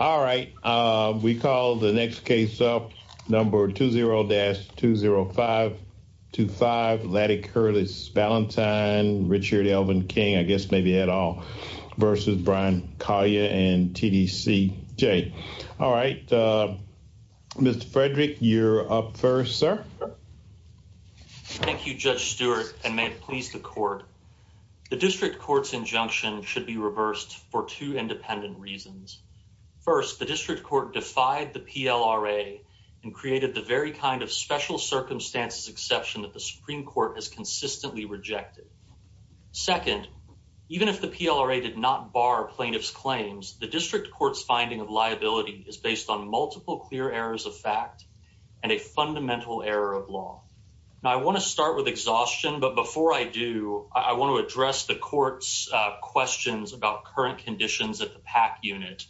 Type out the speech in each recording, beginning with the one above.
All right, we call the next case up. Number 20-20525, Lady Curtis Valentine v. Bryan Collier and TDCJ. All right, Mr. Frederick, you're up first, sir. Thank you, Judge Stewart, and may it please the Court, the District Court's injunction should be First, the District Court defied the PLRA and created the very kind of special circumstances exception that the Supreme Court has consistently rejected. Second, even if the PLRA did not bar plaintiff's claims, the District Court's finding of liability is based on multiple clear errors of fact and a fundamental error of law. Now, I want to start with exhaustion, but before I do, I want to address the Court's questions about current conditions at the PAC unit.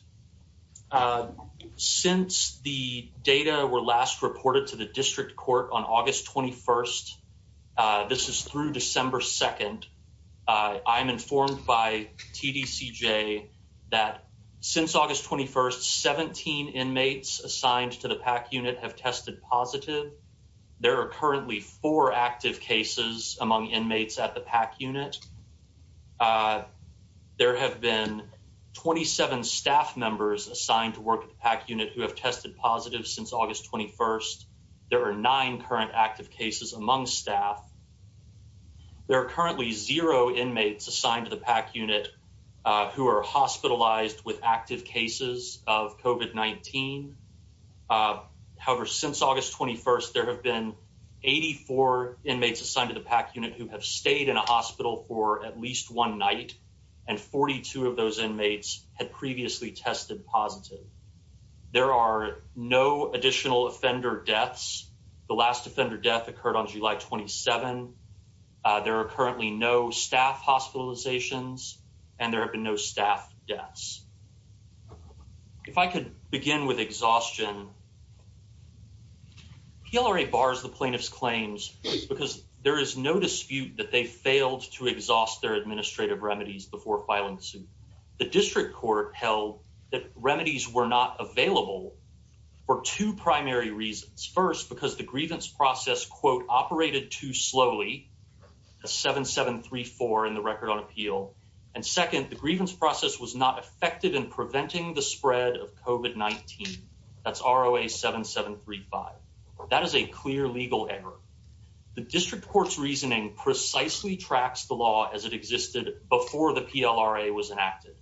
Since the data were last reported to the District Court on August 21st, this is through December 2nd, I'm informed by TDCJ that since August 21st, 17 inmates assigned to the PAC unit have tested positive. There are currently four active cases among inmates at the PAC unit. There have been 27 staff members assigned to work at the PAC unit who have tested positive since August 21st. There are nine current active cases among staff. There are currently zero inmates assigned to the PAC unit who are hospitalized with active cases of COVID-19. However, since August 21st, there have been 84 inmates assigned to the PAC unit who have stayed in a hospital for at least one night and 42 of those inmates had previously tested positive. There are no additional offender deaths. The last offender death occurred on July 27. There are currently no staff hospitalizations and there have been no staff deaths. If I could begin with exhaustion. PLRA bars the plaintiff's claims because there is no dispute that they failed to exhaust their administrative remedies before filing the suit. The District Court held that remedies were not available for two primary reasons. First, because the grievance process, quote, operated too slowly, a 7-7-3-4 in the Record on Appeal. And second, the grievance process was not effective in preventing the spread of COVID-19. That's ROA 7-7-3-5. That is a clear legal error. The District Court's reasoning precisely tracks the law as it existed before the PLRA was enacted.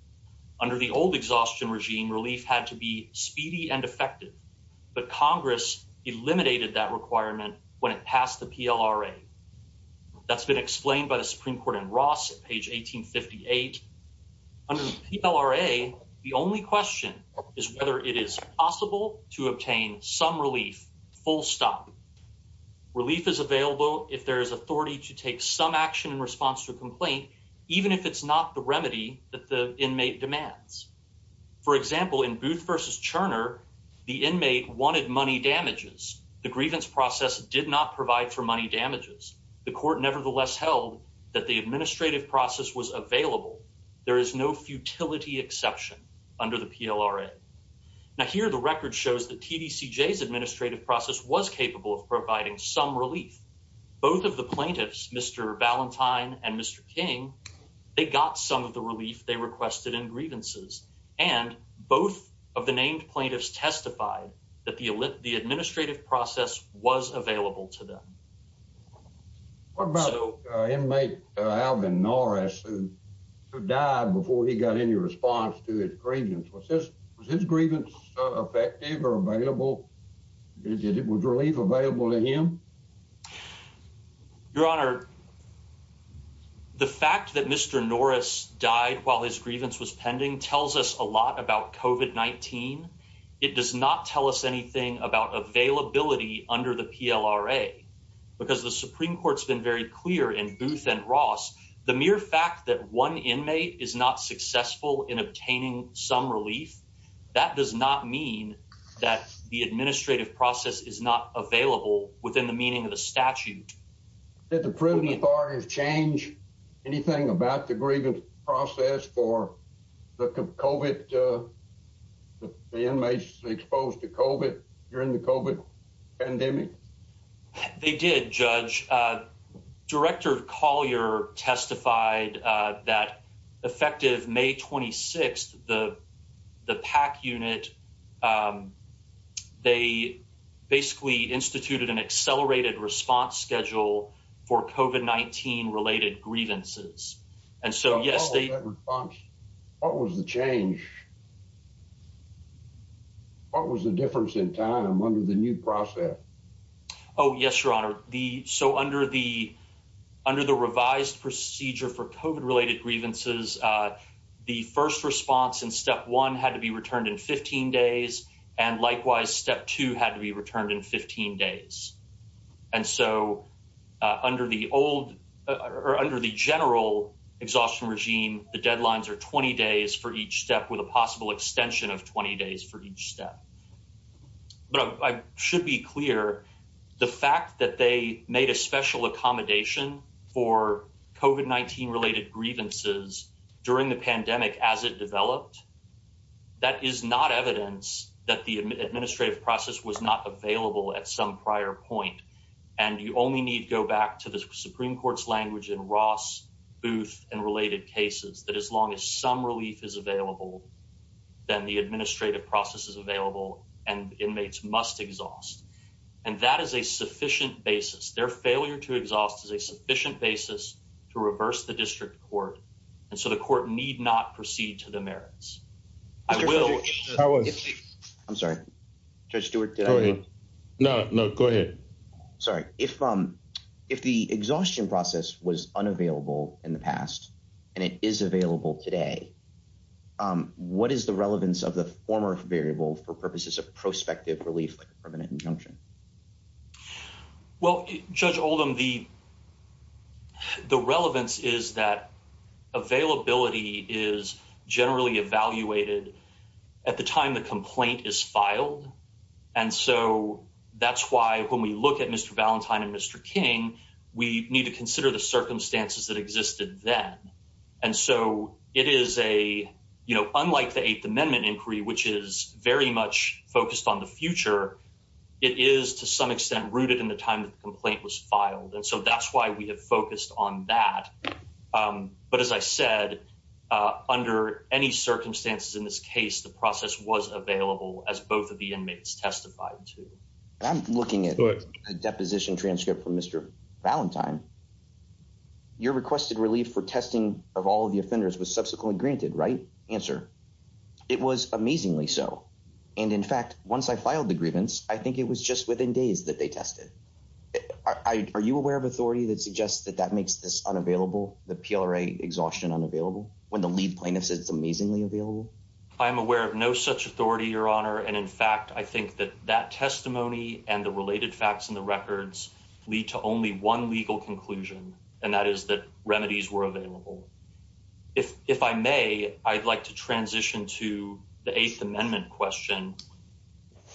Under the old exhaustion regime, relief had to be speedy and effective. But Congress eliminated that requirement when it passed the PLRA. That's been explained by the Supreme Court in Ross at page 1858. Under the PLRA, the only question is whether it is possible to obtain some relief, full stop. Relief is available if there is authority to take some action in response to a complaint, even if it's not the remedy that the inmate demands. For example, in Booth v. Turner, the inmate wanted money damages. The grievance process did not provide for money damages. The court nevertheless held that the administrative process was available. There is no futility exception under the PLRA. Now, here the Record shows that TDCJ's administrative process was capable of providing some relief. Both of the plaintiffs, Mr. Valentine and Mr. King, they got some of the relief they requested in grievances. And both of the named plaintiffs testified that the administrative process was available to them. What about inmate Alvin Norris who died before he got any response to his grievance? Was his grievance effective or available? Was relief available to him? Your Honor, the fact that Mr. Norris died while his grievance was pending tells us a lot about COVID-19. It does not tell us anything about availability under the PLRA. Because the Supreme Court's been very clear in Booth v. Ross, the mere fact that one inmate is not successful in obtaining some relief, that does not mean that the administrative process is not available within the meaning of the statute. Did the proven authority change anything about the grievance process for the inmates exposed to COVID during the COVID pandemic? They did, Judge. Director Collier testified that effective May 26, the PAC unit, they basically instituted an accelerated response schedule for COVID-19 related grievances. And so, yes, they... Tell us about that response. What was the change? What was the difference in time under the new process? Oh, yes, Your Honor. So, under the revised procedure for COVID-related grievances, the first response in step one had to be returned in 15 days, and likewise, step two had to be returned in 15 days. And so, under the general exhaustion regime, the deadlines are 20 days for each step with a possible extension of 20 days for each step. But I should be clear, the fact that they made a special accommodation for COVID-19 related grievances during the pandemic as it developed, that is not evidence that the administrative process was not available at some prior point. And you only need to go back to the Supreme Court's language in Ross, Booth, and related cases, that as long as some relief is available, then the administrative process is available and inmates must exhaust. And that is a sufficient basis. Their failure to exhaust is a sufficient basis to reverse the district court. And so, the court need not proceed to the merits. I will. I'm sorry, Judge Stewart. No, no, go ahead. Sorry. If the exhaustion process was unavailable in the past, and it is available today, what is the relevance of the former variable for purposes of prospective relief, permanent injunction? Well, Judge Oldham, the relevance is that it is evaluated at the time the complaint is filed. And so, that's why when we look at Mr. Valentine and Mr. King, we need to consider the circumstances that existed then. And so, it is a, you know, unlike the Eighth Amendment inquiry, which is very much focused on the future, it is to some extent rooted in the time that the complaint was filed. And so, that's why we have focused on that. But as I said, under any circumstances in this case, the process was available as both of the inmates testified to. I'm looking at a deposition transcript from Mr. Valentine. Your requested relief for testing of all of the offenders was subsequently granted, right? Answer. It was amazingly so. And in fact, once I filed the grievance, I think it was just within days that they tested. Are you aware of authority that suggests that that makes this unavailable? The PLRA exhaustion unavailable? When the lead plaintiff is amazingly available? I'm aware of no such authority, Your Honor. And in fact, I think that that testimony and the related facts in the records lead to only one legal conclusion. And that is that remedies were available. If I may, I'd like to transition to the Eighth Amendment question.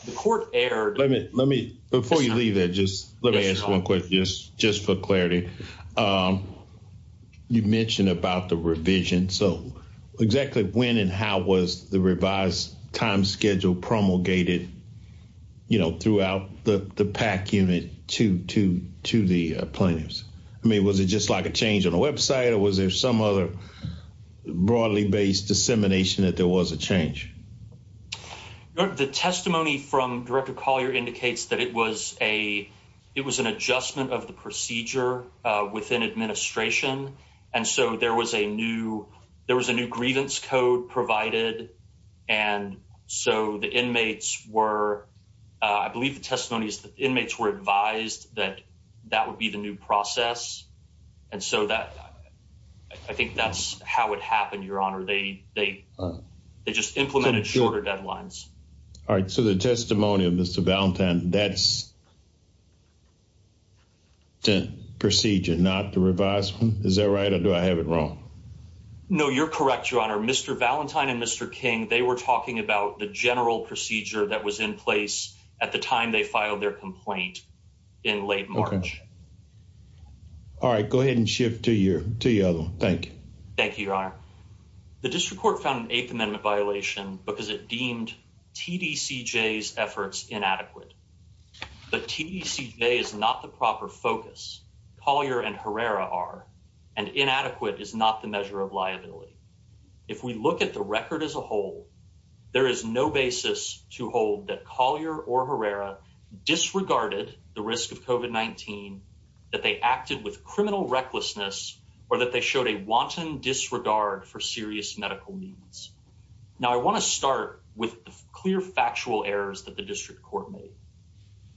The court erred. Let me, before you leave here, let me ask one question, just for clarity. You mentioned about the revision. So exactly when and how was the revised time schedule promulgated, you know, throughout the PAC unit to the plaintiffs? I mean, was it just like a change on the website? Or was there some other broadly based dissemination that there was a change? The testimony from Director Collier indicates that it was an adjustment of the procedure within administration. And so there was a new, there was a new grievance code provided. And so the inmates were, I believe the testimonies, inmates were advised that that would be the new process. And so that, I think that's how it happened, Your Honor. They just implemented shorter deadlines. All right. So the testimony of Mr. Valentine, that's the procedure, not the revised one? Is that right? Or do I have it wrong? No, you're correct, Your Honor. Mr. Valentine and Mr. King, they were talking about the general procedure that was in place at the time they filed their complaint in late March. All right. Thank you. Thank you, Your Honor. The district court found an Eighth Amendment violation because it deemed TDCJ's efforts inadequate. But TDCJ is not the proper focus. Collier and Herrera are. And inadequate is not the measure of liability. If we look at the record as a whole, there is no basis to hold that Collier or Herrera disregarded the risk of COVID-19, that they acted with criminal recklessness, or that they showed a wanton disregard for serious medical needs. Now, I want to start with the clear factual errors that the district court made.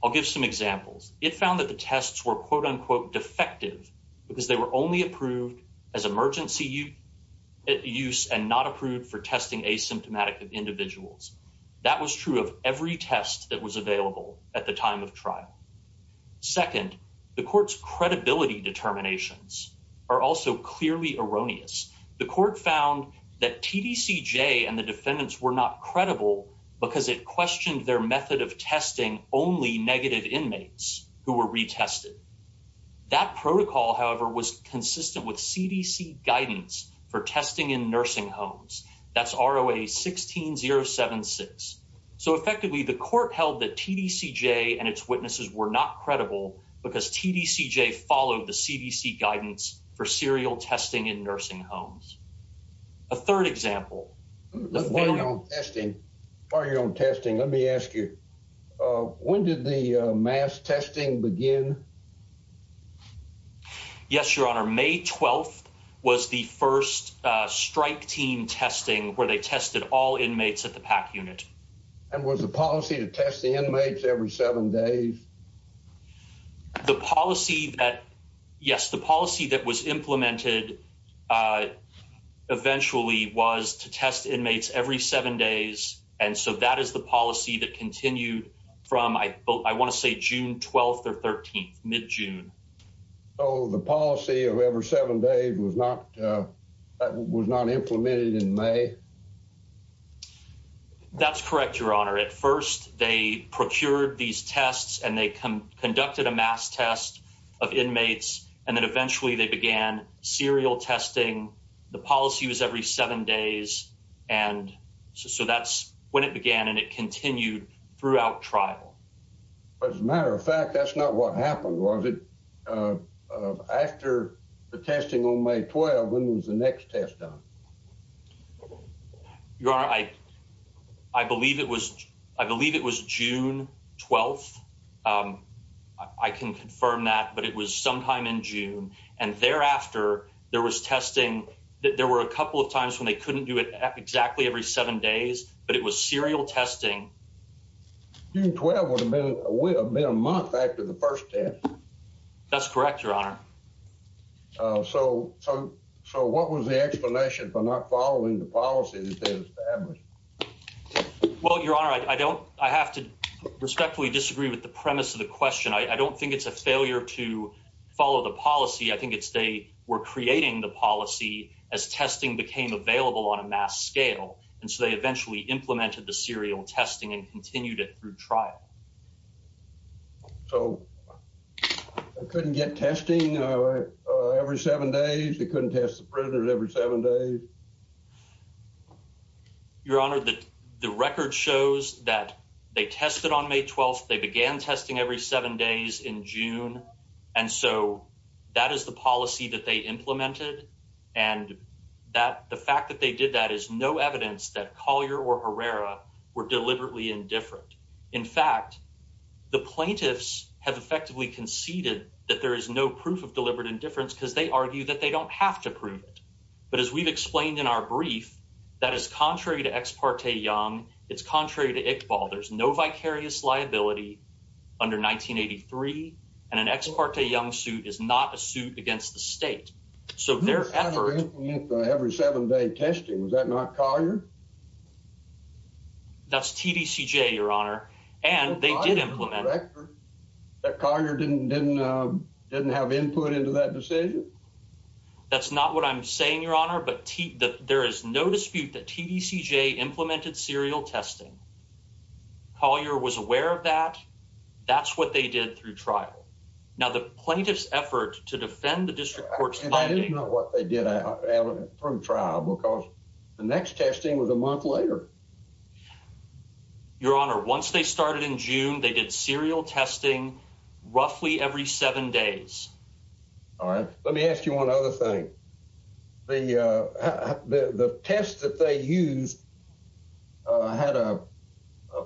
I'll give some examples. It found that the tests were, quote, unquote, defective because they were only approved as emergency use and not approved for testing asymptomatic individuals. That was true of every test that was available at the time of trial. Second, the court's credibility determinations are also clearly erroneous. The court found that TDCJ and the defendants were not credible because it questioned their method of testing only negative inmates who were retested. That protocol, however, was consistent with CDC guidance for testing in nursing homes. That's ROA 16076. So effectively, the court held that TDCJ and its witnesses were not credible because TDCJ followed the CDC guidance for serial testing in nursing homes. A third example. While you're on testing, let me ask you, when did the mass testing begin? Yes, Your Honor. May 12th was the first strike team testing where they tested all inmates at the PAC unit. And was the policy to test the inmates every seven days? The policy that, yes, the policy that was implemented eventually was to test inmates every seven days. And so that is the policy that continued from, I want to say, June 12th or 13th, mid-June. So the policy of every seven days was not implemented in May? That's correct, Your Honor. At first, they procured these tests and they conducted a mass test of inmates. And then eventually they began serial testing. The policy was every seven days. And so that's when it began, and it continued throughout trial. But as a matter of fact, that's not what happened, was it? After the testing on May 12th, when was the next test done? Your Honor, I believe it was June 12th. I can confirm that, but it was sometime in June. And thereafter, there was testing. There were a couple of times when they couldn't do it exactly every seven days, but it was serial testing. June 12th would have been a month after the first test. That's correct, Your Honor. So what was the explanation for not following the policies established? Well, Your Honor, I have to respectfully disagree with the premise of the question. I don't think it's a failure to follow the policy. I think it's they were creating the policy as testing became available on a mass scale. And so they eventually implemented the serial testing and continued it through trial. So they couldn't get testing every seven days? They couldn't test the prisoners every seven days? Your Honor, the record shows that they tested on May 12th. They began testing every seven days in June. And so that is the policy that they implemented. And the fact that they did that is no evidence that Collier or Herrera were deliberately indifferent. In fact, the plaintiffs have effectively conceded that there is no proof of deliberate indifference because they argue that they don't have to prove it. But as we've explained in our brief, that is contrary to Ex parte Young. It's contrary to Iqbal. There's no vicarious liability under 1983. And an Ex parte Young suit is not a suit against the state. So they're every seven day testing. Is that not Collier? That's TDCJ, Your Honor. And they did implement it. But Collier didn't have input into that decision? That's not what I'm saying, Your Honor. But there is no dispute that TDCJ implemented serial testing. Collier was aware of that. That's what they did through trial. Now, the plaintiff's effort to defend the district court's plaintiff... And it is not what they did from trial because the next testing was a month later. Your Honor, once they started in June, they did serial testing roughly every seven days. All right. Let me ask you one other thing. The test that they used had a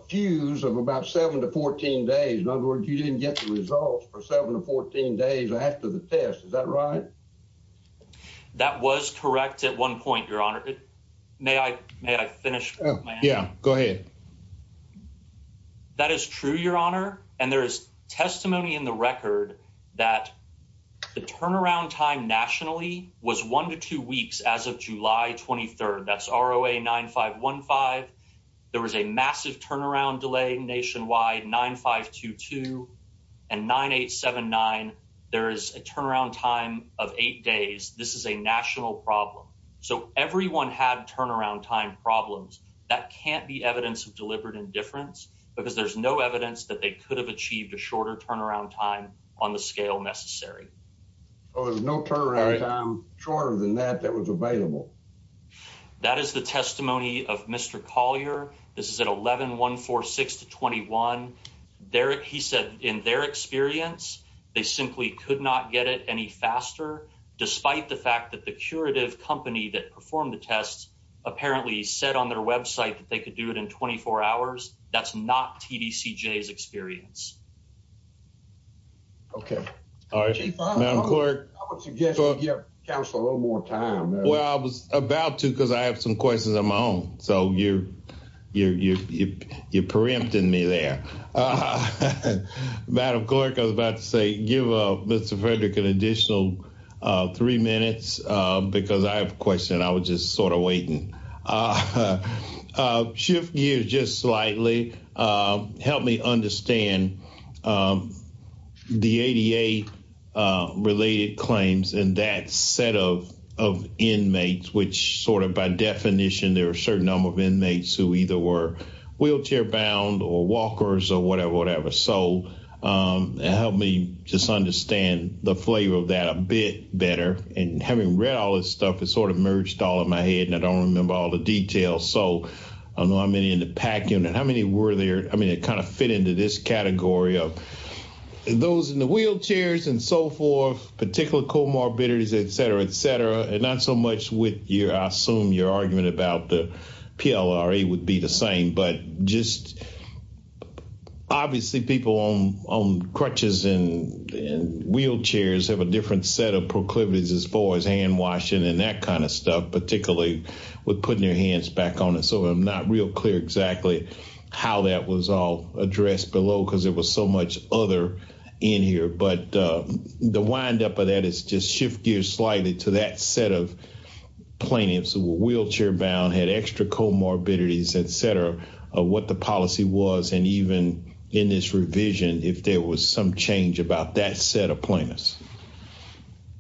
fuse of about seven to 14 days. In other words, you didn't get the results for seven to 14 days after the test. Is that right? That was correct at one point, Your Honor. May I finish? Yeah, go ahead. That is true, Your Honor. And there is testimony in the record that the turnaround time nationally was one to two weeks as of July 23rd. That's ROA 9515. There was a massive turnaround delay nationwide 9522 and 9879. There is a turnaround time of eight days. This is a national problem. So everyone had turnaround time problems. That can't be evidence of deliberate indifference because there's no evidence that they could have achieved a shorter turnaround time on the scale necessary. So there was no turnaround time shorter than that that was available? That is the testimony of Mr. Collier. This is at 11-146-21. He said, in their experience, they simply could not get it any faster despite the fact that the curative company that performed the test apparently said on their website that they could do it in 24 hours. That's not TDCJ's experience. Well, I was about to because I have some questions on my own. So you're preempting me there. Madam Clerk, I was about to say, give Mr. Frederick an additional three minutes because I have a question. I was just sort of waiting. Shift gears just slightly. Help me understand the ADA-related claims and that set of inmates, which sort of by definition, there are a certain number of inmates who either were wheelchair-bound or whatever. So help me just understand the flavor of that a bit better. And having read all this stuff, it sort of merged all in my head, and I don't remember all the details. So how many in the PAC unit? How many were there? I mean, it kind of fit into this category of those in the wheelchairs and so forth, particular comorbidities, et cetera, et cetera. And not so much with your, I assume your argument about the PLRA would be the same. But just obviously people on crutches and wheelchairs have a different set of proclivities as far as hand washing and that kind of stuff, particularly with putting their hands back on it. So I'm not real clear exactly how that was all addressed below because it was so much other in here. But the windup of that is just shift gears slightly to that set of claims who were wheelchair bound, had extra comorbidities, et cetera, of what the policy was. And even in this revision, if there was some change about that set of plans.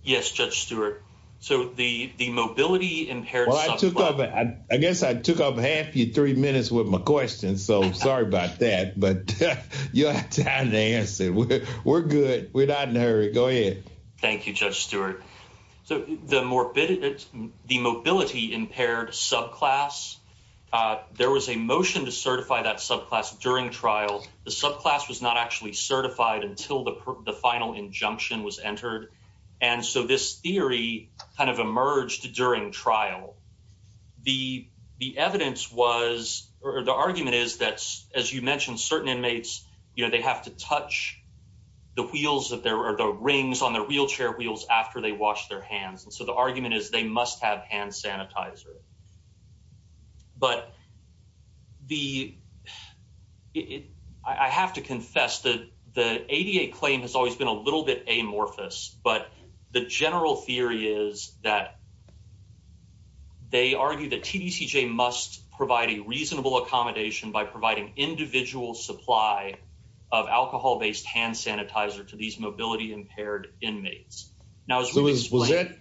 Yes, Judge Stewart. So the mobility impaired... Well, I took up, I guess I took up half your three minutes with my question. So sorry about that, but you don't have time to answer it. We're good. We're not in a hurry. Go ahead. Thank you, Judge Stewart. So the morbidity, the mobility impaired subclass, there was a motion to certify that subclass during trial. The subclass was not actually certified until the final injunction was entered. And so this theory kind of emerged during trial. The evidence was, or the argument is that, as you mentioned, certain inmates, they have to touch the wheels or the rings on their wheelchair wheels after they wash their hands. And so the argument is they must have hand sanitizer. But I have to confess that the ADA claim has always been a little bit amorphous. But the general theory is that they argue that TDCJ must provide a reasonable accommodation by providing individual supply of alcohol-based hand sanitizer to these mobility impaired inmates. Was that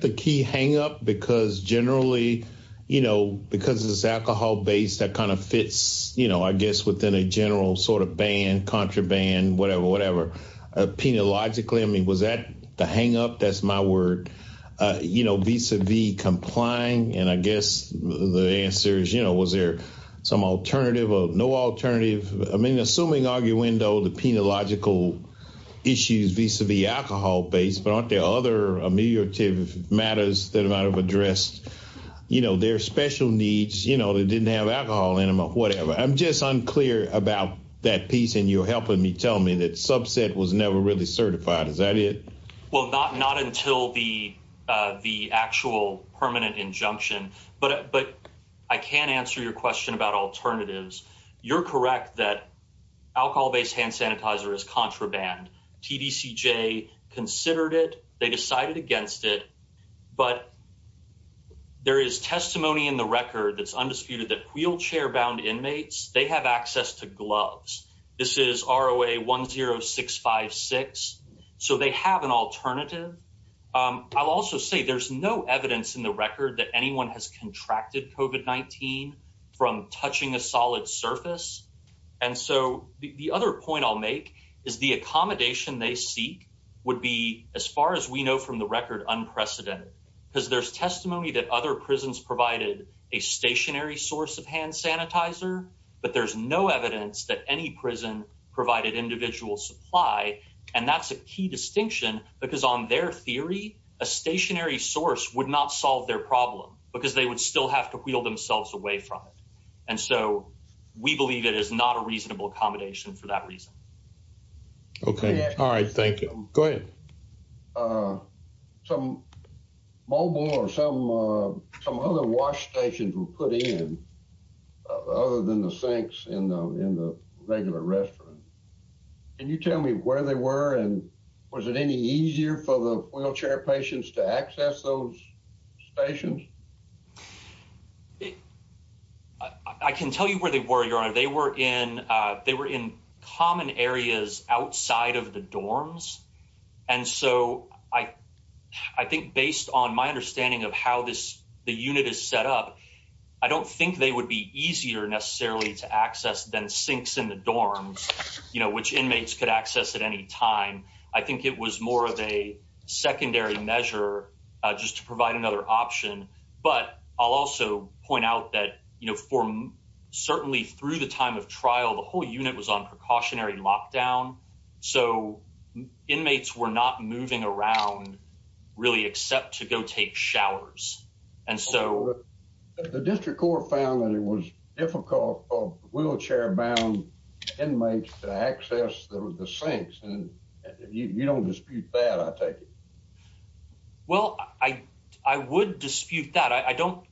the key hang up? Because generally, you know, because it's alcohol-based, that kind of fits, you know, I guess within a general sort of ban, contraband, whatever, whatever. Penologically, I mean, was that the hang up? That's my word. You know, vis-a-vis complying. And I guess the answer is, you know, was there some alternative or no alternative? I mean, assuming arguendo, the penological issues vis-a-vis alcohol-based, but aren't there other ameliorative matters that might have addressed, you know, their special needs, you know, that didn't have alcohol in them or whatever? I'm just unclear about that piece. And you're helping me tell me that subset was never really certified. Is that it? Well, not until the actual permanent injunction, but I can answer your question about alternatives. You're correct that alcohol-based hand sanitizer is contraband. TDCJ considered it. They decided against it. But there is testimony in the record that's undisputed that wheelchair-bound inmates, they have access to gloves. This is ROA 10656. So they have an alternative. I'll also say there's no evidence in the record that anyone has contracted COVID-19 from touching a solid surface. And so the other point I'll make is the accommodation they seek would be, as far as we know from the record, unprecedented. Because there's testimony that other prisons provided a stationary source of hand sanitizer, but there's no evidence that any prison provided individual supply. And that's a key distinction because on their theory, a stationary source would not solve their problem because they would still have to wheel themselves away from it. And so we believe it is not a reasonable accommodation for that reason. Okay. All right. Thank you. Go ahead. Some mobile or some other wash stations were put in other than the sinks in the regular restaurant. Can you tell me where they were? And was it any easier for the wheelchair patients to access those stations? I can tell you where they were, Your Honor. They were in common areas outside of the dorms. And so I think based on my understanding of how the unit is set up, I don't think they would be easier necessarily to access than sinks in the dorms, which inmates could access at any time. I think it was more of a secondary measure just to provide another option. But I'll also point out that certainly through the time of trial, the whole unit was on precautionary lockdown. So inmates were not moving around really except to go take showers. And so the district court found that it was difficult for wheelchair-bound inmates to access the sinks. And you don't dispute that, I take it. Well, I would dispute that. I don't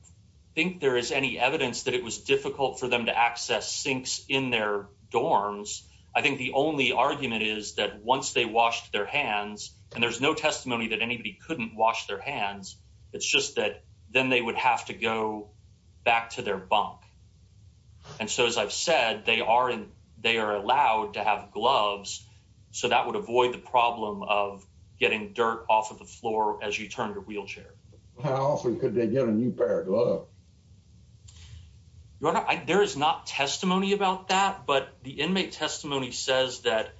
think there is any evidence that it was difficult for them to access sinks in their dorms. I think the only argument is that once they washed their hands, and there's no testimony that anybody couldn't wash their hands, it's just that then they would have to go back to their bunk. And so as I've said, they are allowed to have gloves, so that would avoid the problem of getting dirt off of the floor as you turn the wheelchair. How often could they get a new pair of gloves? There is not testimony about that, but the inmate testimony says that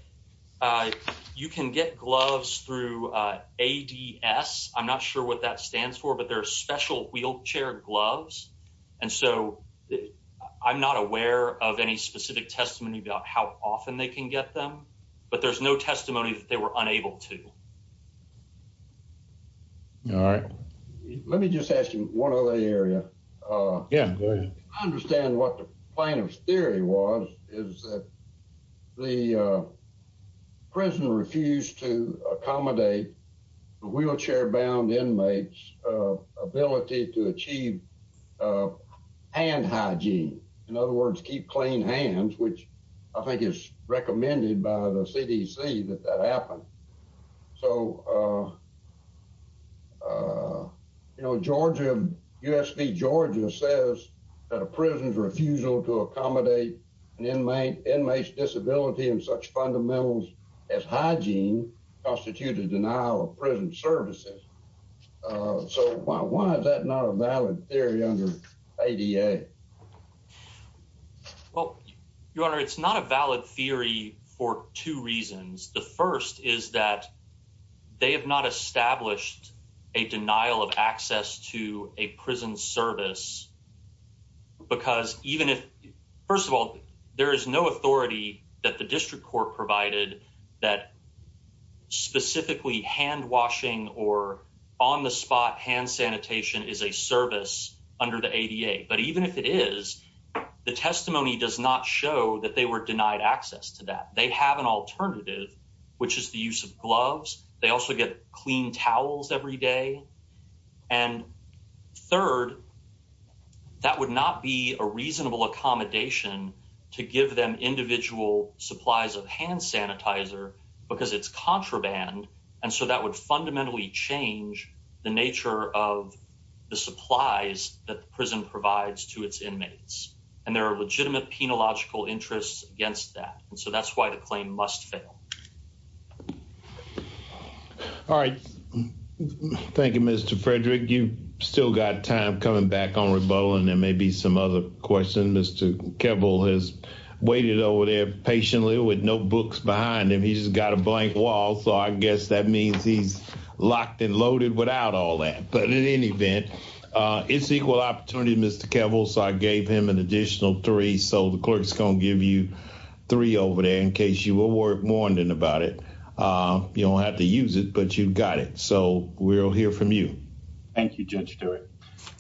you can get gloves through ADS. I'm not sure what that stands for, but they're special wheelchair gloves. And so I'm not aware of any specific testimony about how often they can get them, but there's no testimony that they were unable to. All right. Let me just ask you one other area. Yeah. I understand what the plaintiff's theory was, is that the prisoner refused to accommodate the wheelchair-bound inmate's ability to achieve hand hygiene. In other words, keep clean hands, which I think is recommended by the CDC that that happened. So, you know, Georgia, USP Georgia says that a prisoner's refusal to accommodate an inmate's disability and such fundamentals as hygiene constitute a denial of prison services. So why is that not a valid theory under ADA? Well, Your Honor, it's not a valid theory for two reasons. The first is that they have not established a denial of access to a prison service. Because even if, first of all, there is no authority that the district court provided that specifically hand-washing or on-the-spot hand sanitation is a service under the ADA. But even if it is, the testimony does not show that they were denied access to that. They have an alternative, which is the use of gloves. They also get clean towels every day. And third, that would not be a reasonable accommodation to give them individual supplies of hand sanitizer because it's contraband. And so that would fundamentally change the nature of the supplies that prison provides to its inmates. And there are legitimate penological interests against that. So that's why the claim must fail. All right. Thank you, Mr. Frederick. You've still got time coming back on rebuttal. And there may be some other questions. Mr. Kevel has waited over there patiently with no books behind him. He's got a blank wall. So I guess that means he's locked and loaded without all that. But in any event, it's equal opportunity, Mr. Kevel. So I gave him an additional three. So the clerk's going to give you three over there in case you were moaning about it. You don't have to use it, but you've got it. So we'll hear from you. Thank you, Judge Stewart.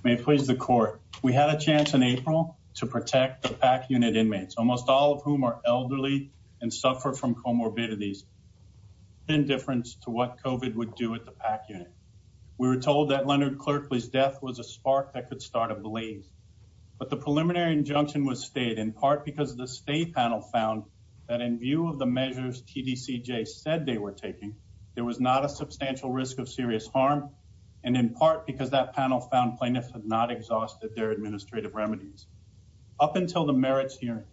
May it please the court. We had a chance in April to protect the PAC unit inmates, almost all of whom are elderly and suffer from comorbidities, indifference to what COVID would do at the PAC unit. We were told that Leonard Clerkley's death was a spark that could start a blaze. But the preliminary injunction was stayed in part because the state panel found that in view of the measures TDCJ said they were taking, there was not a substantial risk of serious harm. And in part because that panel found plaintiffs had not exhausted their administrative remedies. Up until the merits hearing,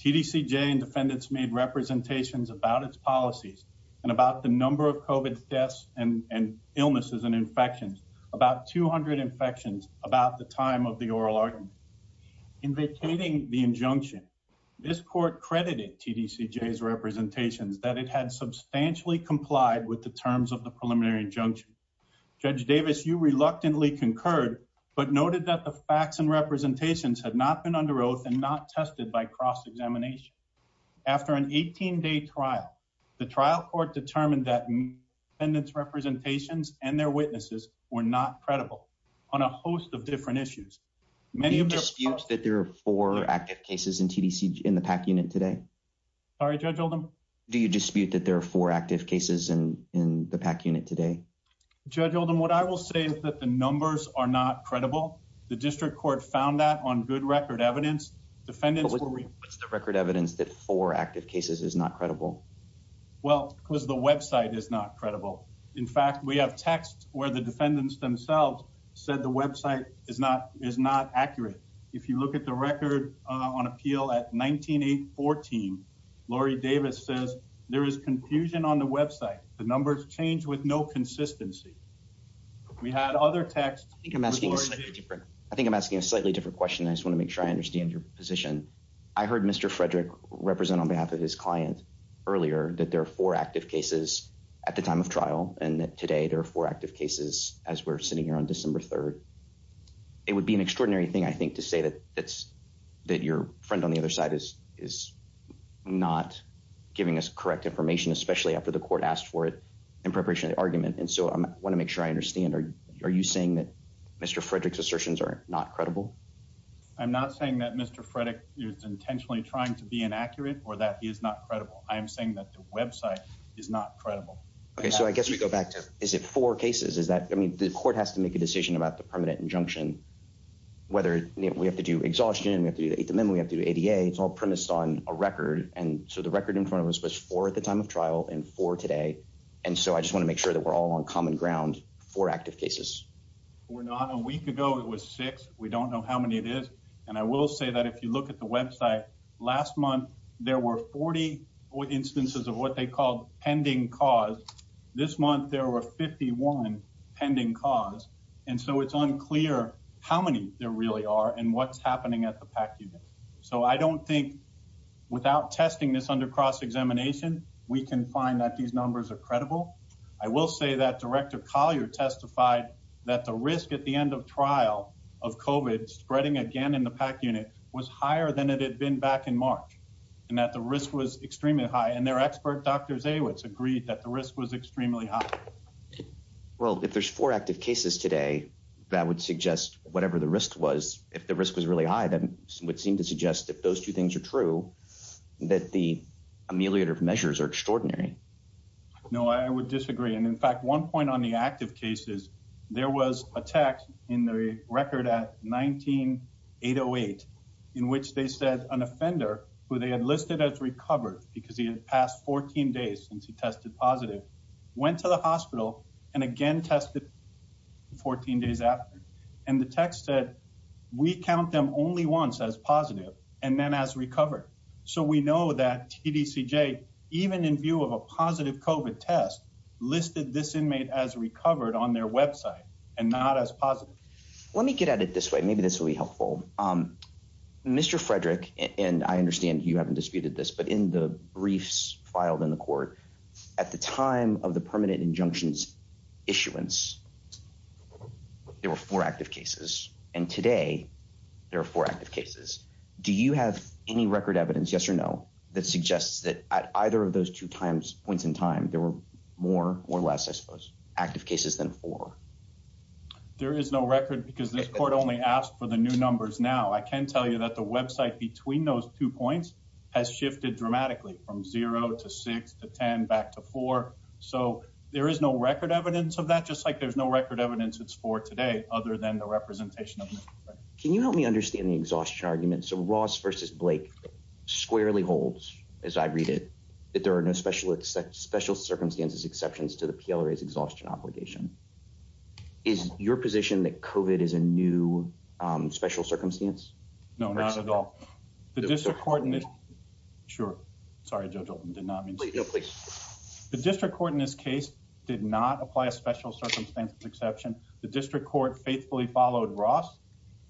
TDCJ and defendants made representations about its policies and about the number of COVID deaths and illnesses and infections, about 200 infections about the time of the oral argument. In vacating the injunction, this court credited TDCJ's representation that it had substantially complied with the terms of the preliminary injunction. Judge Davis, you reluctantly concurred, but noted that the facts and representations had not been under oath and not tested by cross-examination. After an 18-day trial, the trial court determined that defendant's representations and their witnesses were not credible on a host of different issues. Do you dispute that there are four active cases in the PAC unit today? Sorry, Judge Hilden? Do you dispute that there are four active cases in the PAC unit today? Judge Hilden, what I will say is that the numbers are not credible. The district court found that on good record evidence. Defendants will- But what's the record evidence that four active cases is not credible? Well, because the website is not credible. In fact, we have texts where the defendants themselves said the website is not accurate. If you look at the record on appeal at 19-8-14, Lori Davis says, there is confusion on the website. The numbers change with no consistency. We had other texts- I think I'm asking a slightly different question. I just want to make sure I understand your position. I heard Mr. Frederick represent on behalf of his client earlier that there are four active cases at the time of trial and that today there are four active cases as we're sitting here on December 3rd. It would be an extraordinary thing, I think, to say that it's- that your friend on the other side is not giving us correct information, especially after the court asked for it in preparation of the argument. And so I want to make sure I understand. Are you saying that Mr. Frederick's assertions are not credible? I'm not saying that Mr. Frederick is intentionally trying to be inaccurate or that he is not credible. I'm saying that the website is not credible. Okay, so I guess we go back to- is it four cases? Is that- I mean, the court has to make a decision about the permanent injunction, whether we have to do exhaustion, we have to do the eighth amendment, we have to do ADA. It's all premised on a record. And so the record in front of us was four at the time of trial and four today. And so I just want to make sure that we're all on common ground for active cases. Well, not a week ago, it was six. We don't know how many it is. And I will say that if you look at the website, last month, there were 40 instances of what they called pending cause. This month, there were 51 pending cause. And so it's unclear how many there really are and what's happening at the PAC unit. So I don't think without testing this under cross-examination, we can find that these numbers are credible. I will say that Director Collier testified that the risk at the end of trial of COVID spreading again in the PAC unit was higher than it had been back in March, and that the risk was extremely high. And their expert, Dr. Dawits, agreed that the risk was extremely high. Well, if there's four active cases today, that would suggest whatever the risk was, if the risk was really high, then it would seem to suggest that those two things are true, that the ameliorative measures are extraordinary. No, I would disagree. In fact, one point on the active cases, there was a text in the record at 19-808, in which they said an offender who they had listed as recovered, because he had passed 14 days since he tested positive, went to the hospital and again tested 14 days after. And the text said, we count them only once as positive and then as recovered. So we know that CDCJ, even in view of a positive COVID test, listed this inmate as recovered on their website and not as positive. Let me get at it this way, maybe this will be helpful. Mr. Frederick, and I understand you haven't disputed this, but in the briefs filed in the court, at the time of the permanent injunctions issuance, there were four active cases. And today, there are four active cases. Do you have any record evidence, yes or no, that suggests that at either of those two points in time, there were more or less, I suppose, active cases than four? There is no record because this court only asked for the new numbers now. I can tell you that the website between those two points has shifted dramatically from zero to six to 10 back to four. So there is no record evidence of that, just like there's no record evidence it's four today, other than the representation. Can you help me understand the exhaustion argument? So Ross versus Blake squarely holds, as I read it, that there are no special circumstances exceptions to the PLRA's exhaustion obligation. Is your position that COVID is a new special circumstance? No, not at all. Sure. Sorry, Joe Dalton, did not mean to interrupt. The district court in this case did not apply a special circumstances exception. The district court faithfully followed Ross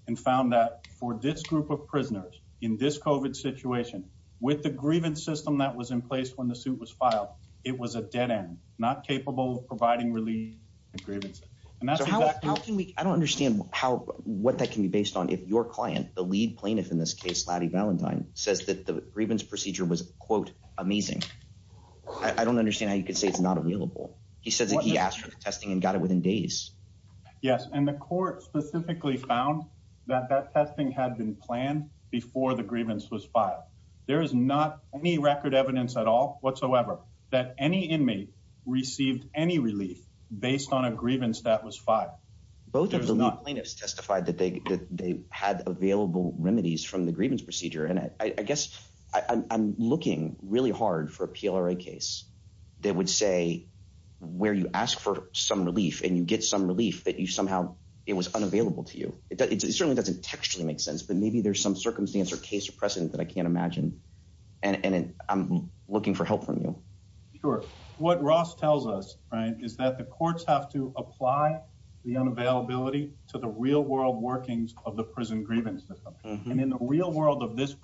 and found that for this group of prisoners in this COVID situation, with the grievance system that was in place when the suit was filed, it was a dead end, not capable of providing relief. I don't understand what that can be based on if your client, the lead plaintiff in this case, Lottie Valentine, says that the grievance procedure was quote, amazing. I don't understand how you could say it's not available. He said that he asked for testing and got it within days. Yes, and the court specifically found that that testing had been planned before the grievance was filed. There is not any record evidence at all whatsoever that any inmate received any relief based on a grievance that was filed. Both of the plaintiffs testified that they had available remedies from the grievance procedure. And I guess I'm looking really hard for a PLRA case that would say where you ask for some relief and you get some relief, but you somehow, it was unavailable to you. It certainly doesn't textually make sense, but maybe there's some circumstance or case of precedent that I can't imagine. And I'm looking for help from you. Sure. What Ross tells us, right, is that the courts have to apply the unavailability to the real world workings of the prison grievance system. And in the real world of this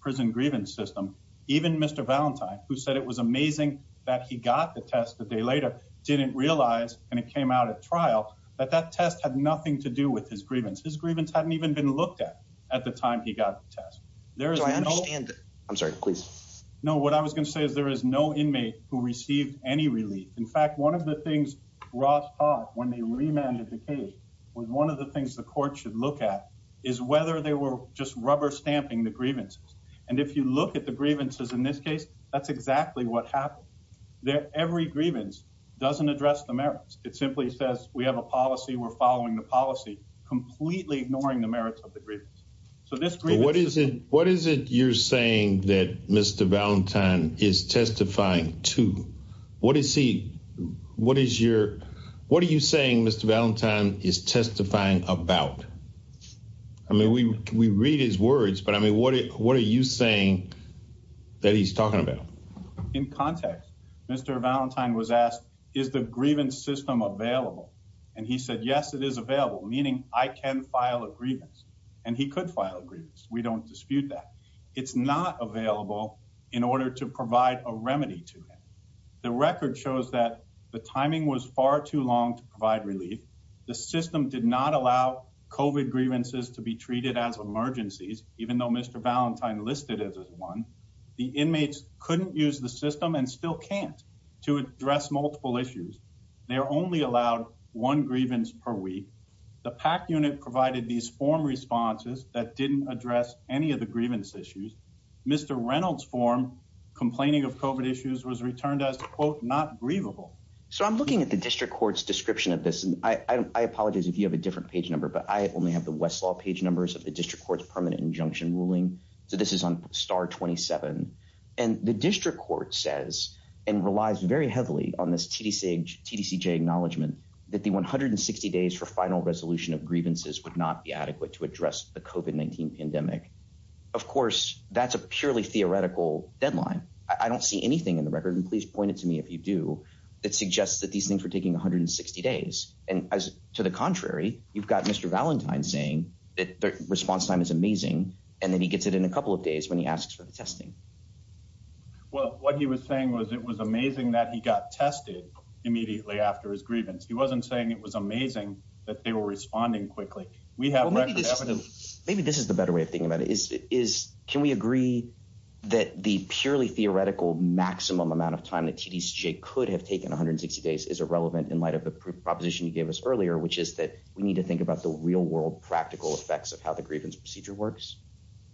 prison grievance system, even Mr. Valentine, who said it was amazing that he got the test the day later, didn't realize, and it came out at trial, that that test had nothing to do with his grievance. His grievance hadn't even been looked at, at the time he got the test. There is no- I understand that. I'm sorry, please. No, what I was going to say is there is no inmate who received any relief. In fact, one of the things Ross thought when he remanded the case, was one of the things the court should look at is whether they were just rubber stamping the grievances. And if you look at the grievances in this case, that's exactly what happened. That every grievance doesn't address the merits. It simply says we have a policy, we're following the policy, completely ignoring the merits of the grievance. So this grievance- What is it you're saying that Mr. Valentine is testifying to? What is he, what is your, what are you saying Mr. Valentine is testifying about? I mean, we read his words, but I mean, what are you saying that he's talking about? In context, Mr. Valentine was asked, is the grievance system available? And he said, yes, it is available, meaning I can file a grievance. And he could file a grievance. We don't dispute that. It's not available in order to provide a remedy to it. The record shows that the timing was far too long to provide relief. The system did not allow COVID grievances to be treated as emergencies, even though Mr. Valentine listed it as one. The inmates couldn't use the system and still can't to address multiple issues. They're only allowed one grievance per week. The PAC unit provided these form responses that didn't address any of the grievance issues. Mr. Reynolds' form complaining of COVID issues was returned as, quote, not grievable. So I'm looking at the district court's description of this, and I apologize if you have a different page number, but I only have the Westlaw page numbers of the district court's permanent injunction ruling. So this is on star 27. And the district court says and relies very heavily on this TDCJ acknowledgement that the 160 days for final resolution of grievances would not be adequate to address the COVID-19 pandemic. Of course, that's a purely theoretical deadline. I don't see anything in the record, and please point it to me if you do, that suggests that these things are taking 160 days. And to the contrary, you've got Mr. Valentine saying that the response time is amazing, and then he gets it in a couple of days when he asks for the testing. Well, what he was saying was it was amazing that he got tested immediately after his grievance. He wasn't saying it was amazing that they were responding quickly. We have record evidence. Maybe this is the better way of thinking about it is, can we agree that the purely theoretical maximum amount of time that TDCJ could have taken 160 days is irrelevant in light of the proposition you gave us earlier, which is that we need to think about the real world practical effects of how the grievance procedure works?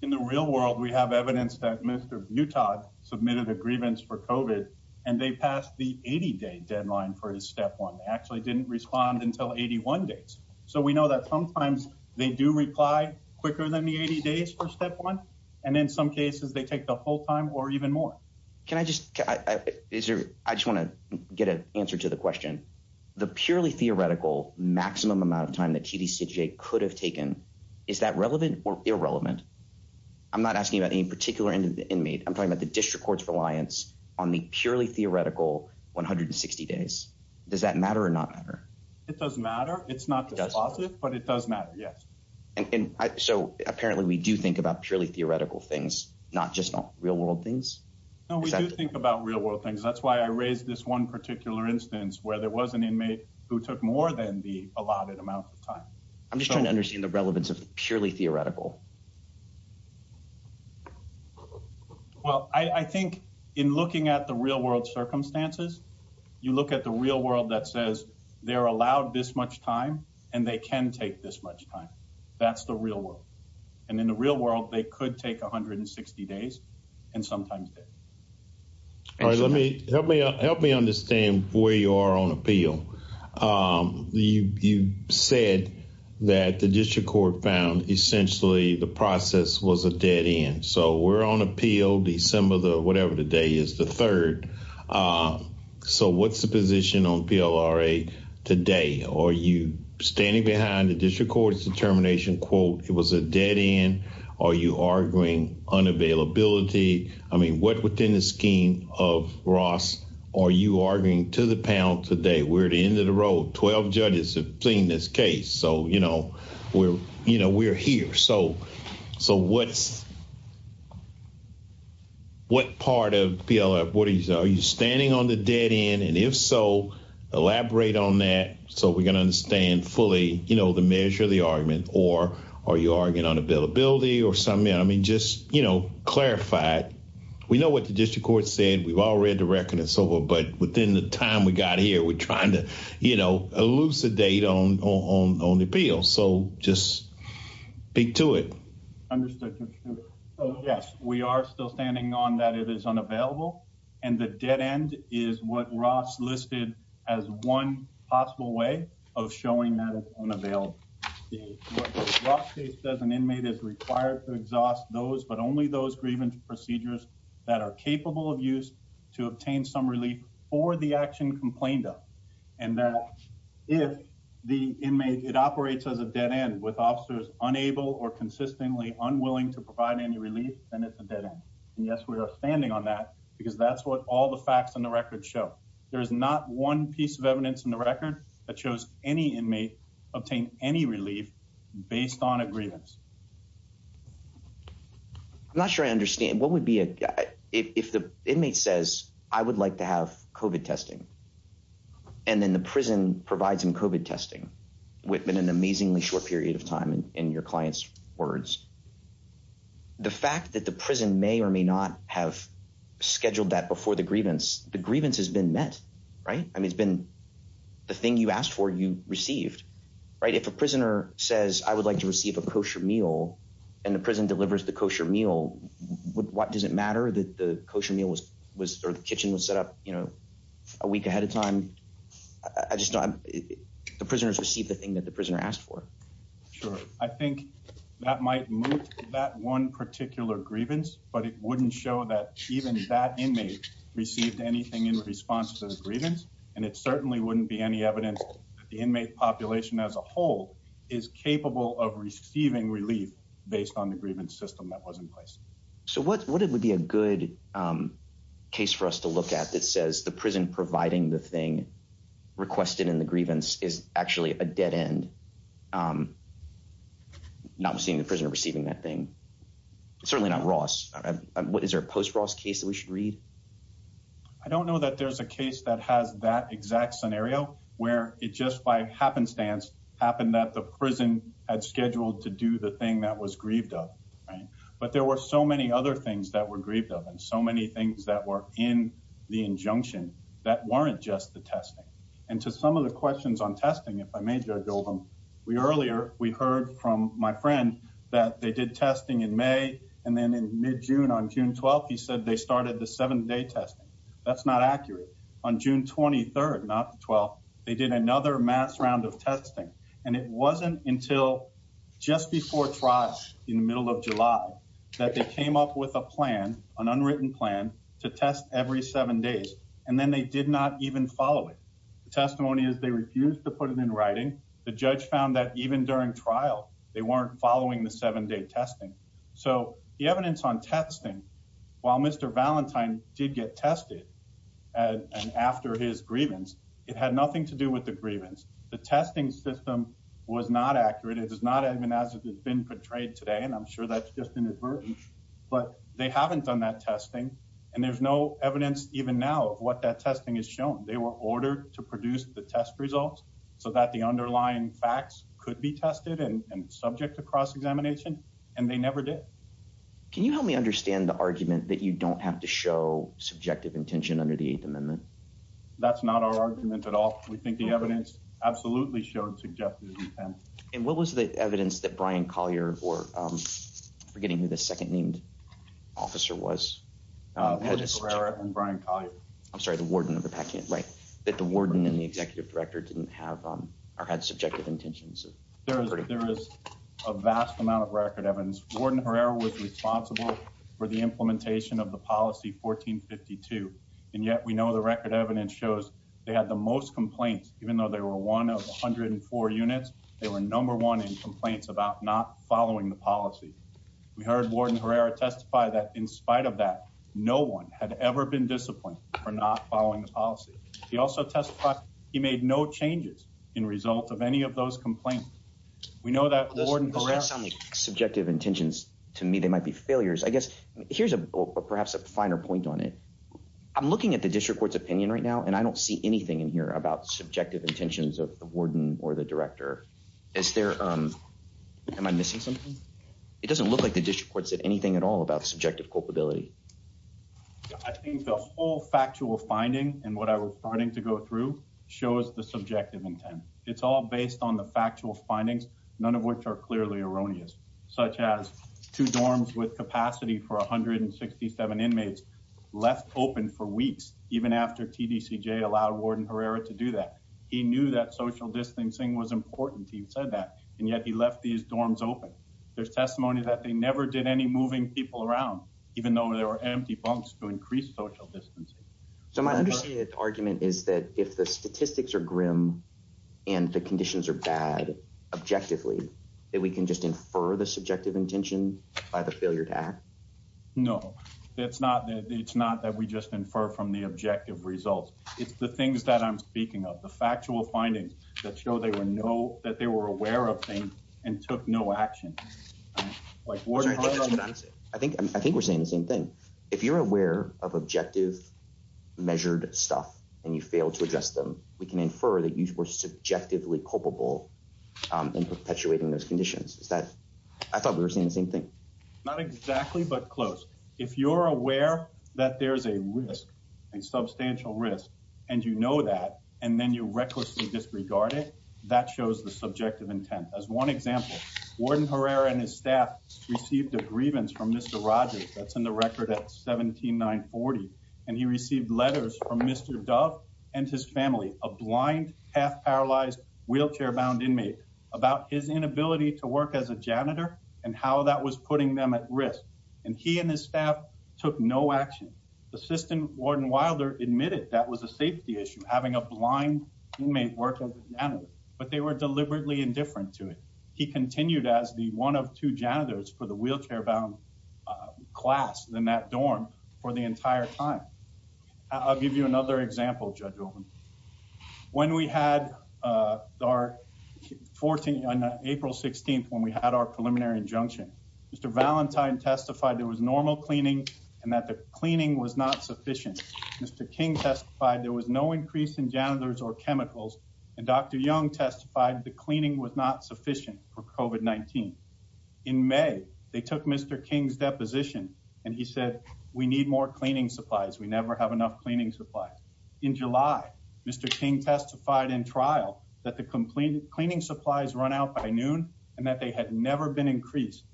In the real world, we have evidence that Mr. Butod submitted a grievance for COVID, and they passed the 80-day deadline for step one, actually didn't respond until 81 days. So we know that sometimes they do reply quicker than the 80 days for step one, and in some cases, they take the whole time or even more. Can I just, I just want to get an answer to the question. The purely theoretical maximum amount of time that TDCJ could have taken, is that relevant or irrelevant? I'm not asking about any particular inmate. I'm talking about the district court's reliance on the purely theoretical 160 days. Does that matter or not matter? It does matter. It's not the opposite, but it does matter. Yes. So apparently we do think about purely theoretical things, not just real world things. No, we do think about real world things. That's why I raised this one particular instance, where there was an inmate who took more than the allotted amount of time. I'm just trying to understand the relevance of purely theoretical. Well, I think in looking at the real world circumstances, you look at the real world that says they're allowed this much time, and they can take this much time. That's the real world. And in the real world, they could take 160 days and sometimes. All right. Let me help me help me understand where you are on appeal. You said that the district court found essentially the process was a dead end. So we're on appeal, December the whatever today is the third. So what's the position on PLRA today? Are you standing behind the district court's determination, quote, it was a dead end? Are you arguing unavailability? I mean, what within the scheme of Ross? Are you arguing to the panel today? We're at the end of the road. 12 judges have seen this case. So, you know, we're, you know, we're here. So, so what? What part of PLRA? What are you standing on the dead end? And if so, elaborate on that. So we can understand fully, you know, the measure, the argument, or are you arguing unavailability or something? I mean, just, you know, clarify it. We know what the district court said. We've all read the record and so forth. But within the time we got here, we're trying to, you know, elucidate on, on, on the appeal. So just speak to it. Yes, we are still standing on that. It is unavailable. And the dead end is what Ross listed as one possible way of showing that it's unavailable. The Rock case says an inmate is required to exhaust those, but only those grievance procedures that are capable of use to obtain some relief for the action complained of. And that if the inmate, it operates as a dead end with officers unable or consistently unwilling to provide any relief, then it's a dead end. And yes, we are standing on that because that's what all the facts in the record show. There's not one piece of evidence in the record that shows any inmate obtain any relief based on a grievance. I'm not sure I understand. What would be a, if the inmate says, I would like to have COVID testing and then the prison provides some COVID testing within an amazingly short period of time in your client's words, the fact that the prison may or may not have scheduled that before the grievance, the grievance has been met, right? It's been the thing you asked for, you received, right? If a prisoner says, I would like to receive a kosher meal and the prison delivers the kosher meal, what does it matter that the kosher meal was, was the kitchen was set up a week ahead of time? I just don't, the prisoners received the thing that the prisoner asked for. Sure. I think that might move that one particular grievance, but it wouldn't show that even that inmate received anything in response to the grievance. It certainly wouldn't be any evidence that the inmate population as a whole is capable of receiving relief based on the grievance system that was in place. So what, what would be a good case for us to look at that says the prison providing the thing requested in the grievance is actually a dead end. Not seeing the prisoner receiving that thing, certainly not Ross. What is our post Ross case that we should read? I don't know that there's a case that has that exact scenario where it just by happenstance happened that the prison had scheduled to do the thing that was grieved of, right? But there were so many other things that were grieved of and so many things that were in the injunction that weren't just the testing. And to some of the questions on testing, if I may build them, we earlier, we heard from my friend that they did testing in May. And then in mid June on June 12th, he said they started the seven day test. That's not accurate on June 23rd, not 12th. They did another mass round of testing. And it wasn't until just before fraud in the middle of July that they came up with a plan, an unwritten plan to test every seven days. And then they did not even follow it. The testimony is they refused to put it in writing. The judge found that even during trial, they weren't following the seven day testing. So the evidence on testing, while Mr. Valentine did get tested and after his grievance, it had nothing to do with the grievance. The testing system was not accurate. It is not as it has been portrayed today. And I'm sure that's just inadvertent, but they haven't done that testing. And there's no evidence even now what that testing is shown. They were ordered to produce the test results so that the underlying facts could be tested and subject to cross examination. And they never did. Can you help me understand the argument that you don't have to show subjective intention under the Eighth Amendment? That's not our argument at all. We think the evidence absolutely showed subjective intent. And what was the evidence that Brian Collier or forgetting who the second named officer was? And Brian Collier. I'm sorry, the warden of the packet, right? That the warden and the executive director didn't have or had subjective intentions. There is a vast amount of record evidence. Warden Herrera was responsible for the implementation of the policy 1452. And yet we know the record evidence shows they had the most complaints, even though they were one of 104 units. They were number one in complaints about not following the policy. We heard Warden Herrera testify that in spite of that, no one had ever been disciplined for not following the policy. He also testified he made no changes in result of any of those complaints. We know that Warden Herrera. Based on the subjective intentions, to me, they might be failures. I guess here's a perhaps a finer point on it. I'm looking at the district court's opinion right now, and I don't see anything in here about subjective intentions of the warden or the director. Is there am I missing something? It doesn't look like the district court said anything at all about subjective culpability. I think the whole factual finding and what I was starting to go through shows the subjective intent. It's all based on the factual findings, none of which are clearly erroneous, such as two dorms with capacity for 167 inmates left open for weeks, even after TDCJ allowed Warden Herrera to do that. He knew that social distancing was important. He said that, and yet he left these dorms open. There's testimony that they never did any moving people around, even though there are empty bunks to increase social distancing. So my understated argument is that if the statistics are grim and the conditions are bad objectively, that we can just infer the subjective intention by the failure to act? No, it's not that we just infer from the objective results. It's the things that I'm speaking of, the factual findings that show that they were aware of things and took no action. I think we're saying the same thing. If you're aware of objective measured stuff and you fail to address them, we can infer that you were subjectively culpable in perpetuating those conditions. I thought we were saying the same thing. Not exactly, but close. If you're aware that there's a risk, a substantial risk, and you know that, and then you recklessly disregard it, that shows the subjective intent. As one example, Warden Herrera and his staff received a grievance from Mr. Rogers, that's in the record at 17940, and he received letters from Mr. Dove and his family, a blind, half-paralyzed, wheelchair-bound inmate, about his inability to work as a janitor and how that was putting them at risk. And he and his staff took no action. The system, Warden Wilder admitted that was a safety issue, having a blind inmate work as a janitor, but they were deliberately indifferent to it. He continued as the one of two janitors for the wheelchair-bound class in that dorm for the entire time. I'll give you another example, Judge Goldman. When we had our 14th, on April 16th, when we had our preliminary injunction, Mr. Valentine testified there was normal cleaning and that the cleaning was not sufficient. Mr. King testified there was no increase in janitors or chemicals, and Dr. Young testified the cleaning was not sufficient for COVID-19. In May, they took Mr. King's deposition, and he said, we need more cleaning supplies. We never have enough cleaning supplies. In July, Mr. King testified in trial that the cleaning supplies run out by noon and that they had never been increased.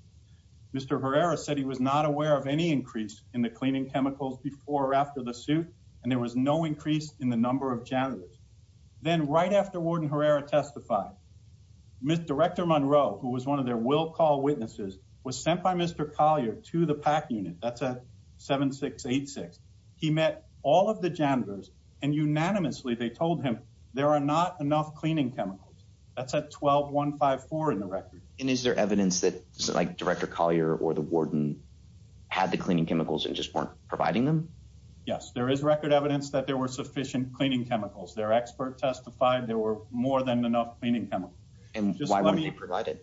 Mr. Herrera said he was not aware of any increase in the cleaning chemicals before or after the suit, and there was no increase in the number of janitors. Then, right after Warden Herrera testified, Ms. Director Monroe, who was one of their will-call witnesses, was sent by Mr. Collier to the PAC unit. That's at 7686. He met all of the janitors, and unanimously they told him there are not enough cleaning chemicals. That's at 12154 in the record. And is there evidence that, like, Director Collier or the warden had the cleaning chemicals and just weren't providing them? Yes, there is record evidence that there were sufficient cleaning chemicals. Their expert testified there were more than enough cleaning chemicals. And why weren't they provided?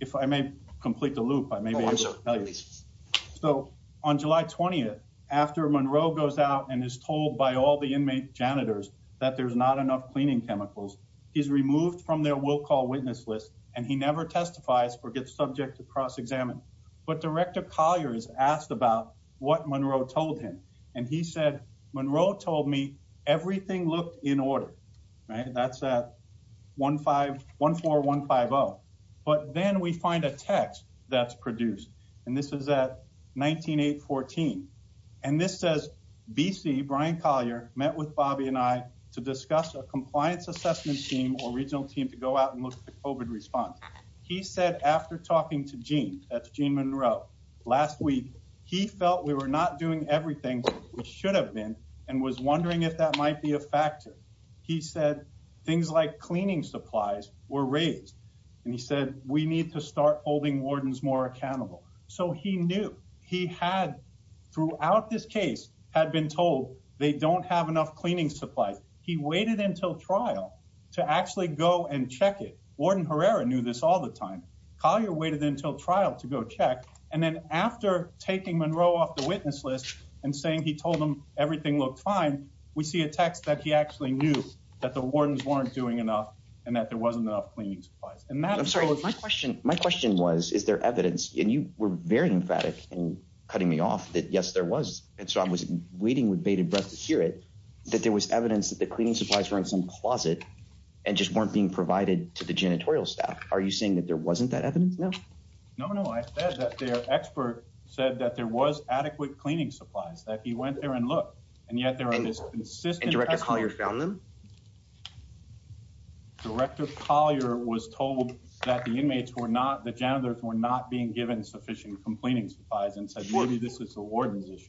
If I may complete the loop, I may be able to tell you. So, on July 20th, after Monroe goes out and is told by all the inmate janitors that there's not enough cleaning chemicals, he's removed from their will-call witness list and he never testifies or gets subjects to cross-examine. But Director Collier is asked about what Monroe told him, and he said, Monroe told me everything looked in order. Right? That's at 14150. But then we find a text that's produced, and this is at 19814. And this says, BC, Brian Collier, met with Bobby and I to discuss a compliance assessment team or regional team to go out and look at the COVID response. He said, after talking to Gene, that's Gene Monroe, last week, he felt we were not doing everything we should have been and was wondering if that might be a factor. He said, things like cleaning supplies were raised. And he said, we need to start holding wardens more accountable. So he knew. He had, throughout this case, had been told they don't have enough cleaning supplies. He waited until trial to actually go and check it. Warden Herrera knew this all the time. Collier waited until trial to go check. And then after taking Monroe off the witness list and saying he told him everything looked fine, we see a text that he actually knew that the wardens weren't doing enough and that there wasn't enough cleaning supplies. And that, I'm sorry, my question was, is there evidence? And you were very emphatic in cutting me off that, yes, there was. And so I was waiting with bated breath to hear it, that there was evidence that the cleaning supplies were in some closet and just weren't being provided to the janitorial staff. Are you saying that there wasn't that evidence? No. No, no. I said that the expert said that there was adequate cleaning supplies, that he went there and looked. And yet there are this consistent- And Director Collier found them? Director Collier was told that the inmates were not, the janitors were not being given sufficient cleaning supplies and said, maybe this is the warden's issue.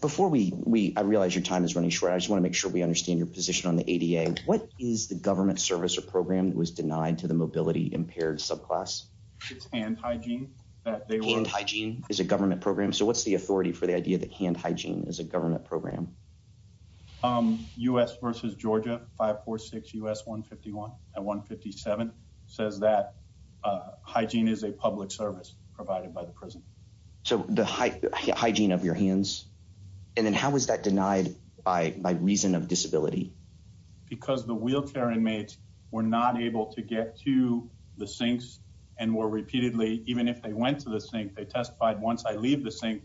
Before we, I realize your time is running short. I just want to make sure we understand your position on the ADA. What is the government service or program that was denied to the mobility-impaired subclass? It's hand hygiene that they were- Hand hygiene is a government program. So what's the authority for the idea that hand hygiene is a government program? U.S. versus Georgia, 546 U.S. 151 and 157 says that hygiene is a public service provided by the prison. So the hygiene of your hands. And then how was that denied by reason of disability? Because the wheelchair inmates were not able to get to the sinks and were repeatedly, even if they went to the sink, they testified once I leave the sink,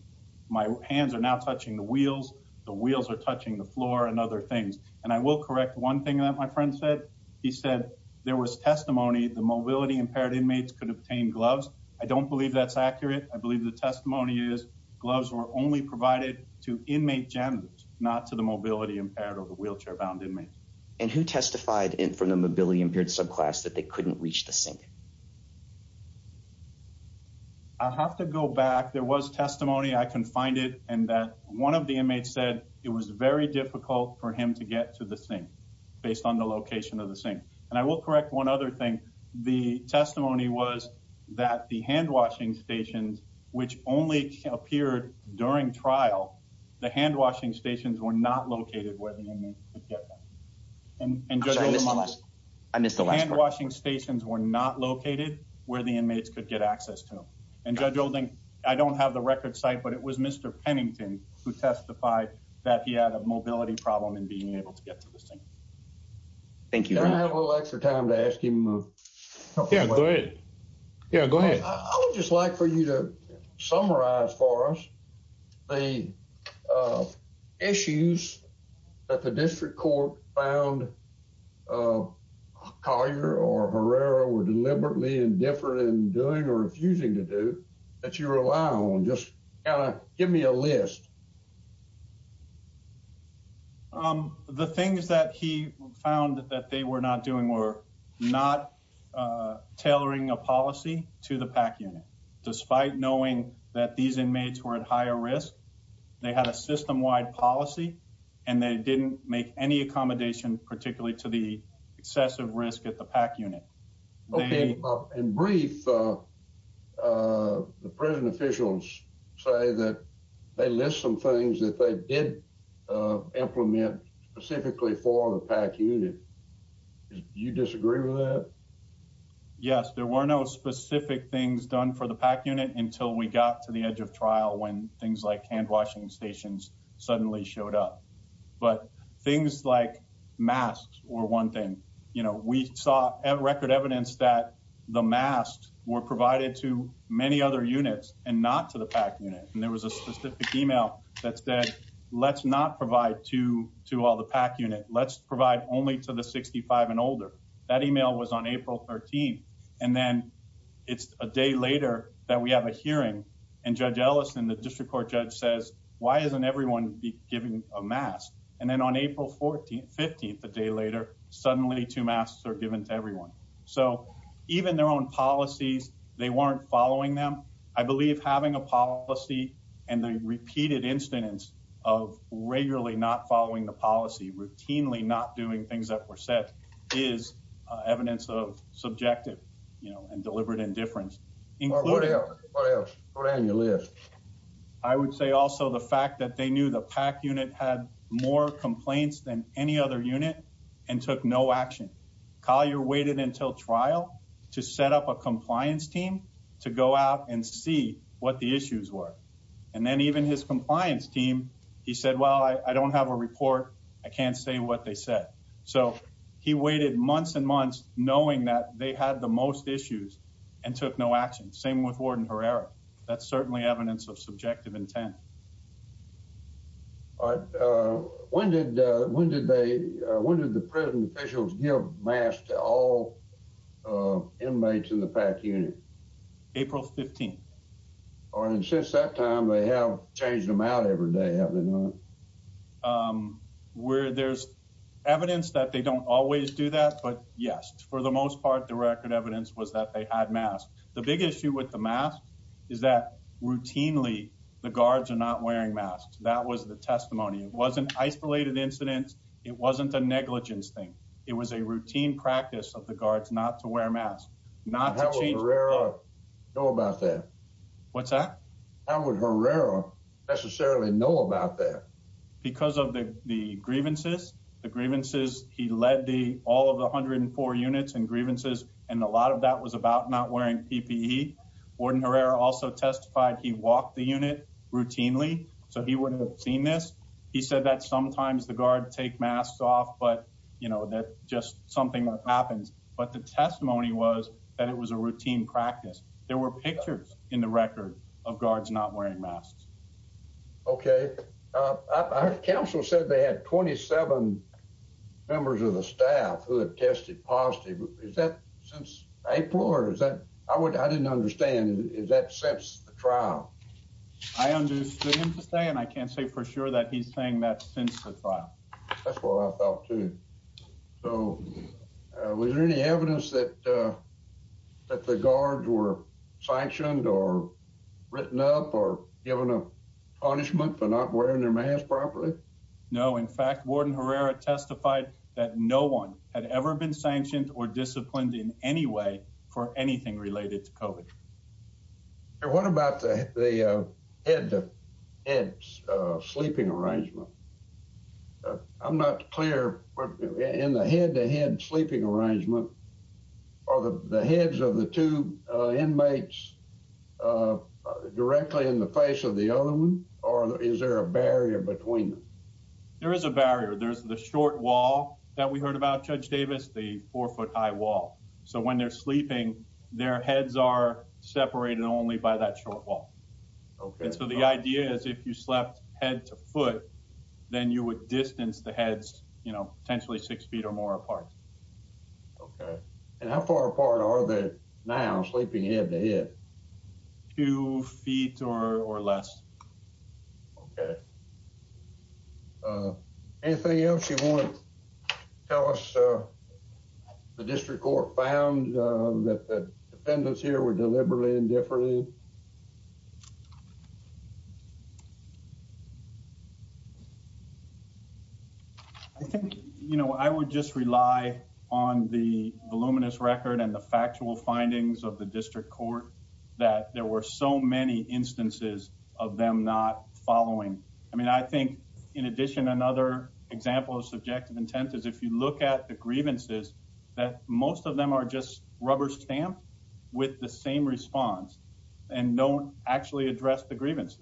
my hands are not touching the wheels. The wheels are touching the floor and other things. And I will correct one thing that my friend said. He said there was testimony, the mobility-impaired inmates could obtain gloves. I don't believe that's accurate. I believe the testimony is gloves were only provided to inmate janitors, not to the mobility-impaired or wheelchair-bound inmates. And who testified for the mobility-impaired subclass that they couldn't reach the sink? I'll have to go back. There was testimony. I can find it. And that one of the inmates said it was very difficult for him to get to the sink based on the location of the sink. And I will correct one other thing. The testimony was that the hand-washing stations, which only appeared during trial, the hand-washing stations were not located where the inmates could get them. And Judge Olden, hand-washing stations were not located where the inmates could get access to them. And Judge Olden, I don't have the record site, but it was Mr. Pennington who testified that he had a mobility problem in being able to get to the sink. Thank you. Can I have a little extra time to ask him? Yeah, go ahead. Yeah, go ahead. I would just like for you to summarize for us the issues that the district court found Collier or Herrera were deliberately indifferent in doing or refusing to do that you rely on. Just give me a list. The things that he found that they were not doing were not tailoring a policy to the PAC unit, despite knowing that these inmates were at higher risk. They had a system-wide policy and they didn't make any accommodation, particularly to the excessive risk at the PAC unit. In brief, the prison officials say that they list some things that they did implement specifically for the PAC unit. You disagree with that? Yes, there were no specific things done for the PAC unit until we got to the edge of trial when things like hand-washing stations suddenly showed up. But things like masks were one thing. You know, we saw record evidence that the masks were provided to many other units and not to the PAC unit. And there was a specific email that said, let's not provide to all the PAC unit. Let's provide only to the 65 and older. That email was on April 13th. And then it's a day later that we have a hearing and Judge Ellison, the district court judge says, why isn't everyone giving a mask? And then on April 15th, a day later, suddenly two masks are given to everyone. So even their own policies, they weren't following them. I believe having a policy and the repeated incidents of regularly not following the policy, routinely not doing things that were said is evidence of subjective. And deliberate indifference. What else, what else? What are on your list? I would say also the fact that they knew the PAC unit had more complaints than any other unit and took no action. Collier waited until trial to set up a compliance team to go out and see what the issues were. And then even his compliance team, he said, well, I don't have a report. I can't say what they said. So he waited months and months knowing that they had the most issues and took no action. Same with Warden Herrera. That's certainly evidence of subjective intent. All right, when did they, when did the prison officials give masks to all inmates in the PAC unit? April 15th. All right, and since that time, they have changed them out every day, have they not? Where there's evidence that they don't always do that, but yes, for the most part, the record evidence was that they had masks. The big issue with the mask is that routinely the guards are not wearing masks. That was the testimony. It wasn't isolated incidents. It wasn't a negligence thing. It was a routine practice of the guards not to wear masks. How would Herrera know about that? What's that? How would Herrera necessarily know about that? Because of the grievances, the grievances, he led all of the 104 units in grievances, and a lot of that was about not wearing PPE. Warden Herrera also testified he walked the unit routinely, so he wouldn't have seen this. He said that sometimes the guards take masks off, but that just something that happens. But the testimony was that it was a routine practice. There were pictures in the record of guards not wearing masks. Okay. Our counsel said they had 27 members of the staff who had tested positive. Is that since April, or is that... I didn't understand. Is that since the trial? I understood him to say, and I can't say for sure that he's saying that since the trial. That's what I thought, too. So was there any evidence that the guards were sanctioned or written up or given a punishment for not wearing their mask properly? No. In fact, Warden Herrera testified that no one had ever been sanctioned or disciplined in any way for anything related to COVID. What about the head-to-head sleeping arrangement? I'm not clear in the head-to-head sleeping arrangement or the heads of the two inmates directly in the face of the other one, or is there a barrier between them? There is a barrier. There's the short wall that we heard about, Judge Davis, the four-foot-high wall. So when they're sleeping, their heads are separated only by that short wall. So the idea is if you slept head to foot, then you would distance the heads, you know, potentially six feet or more apart. And how far apart are they now sleeping head to head? Two feet or less. Okay. Anything else you want to tell us the district court found that the defendants here were delivering differently? I think, you know, I would just rely on the voluminous record and the factual findings of the district court that there were so many instances of them not following. I mean, I think in addition, another example of subjective intent is if you look at the grievances, that most of them are just rubber stamped with the same response. And don't actually address the grievance.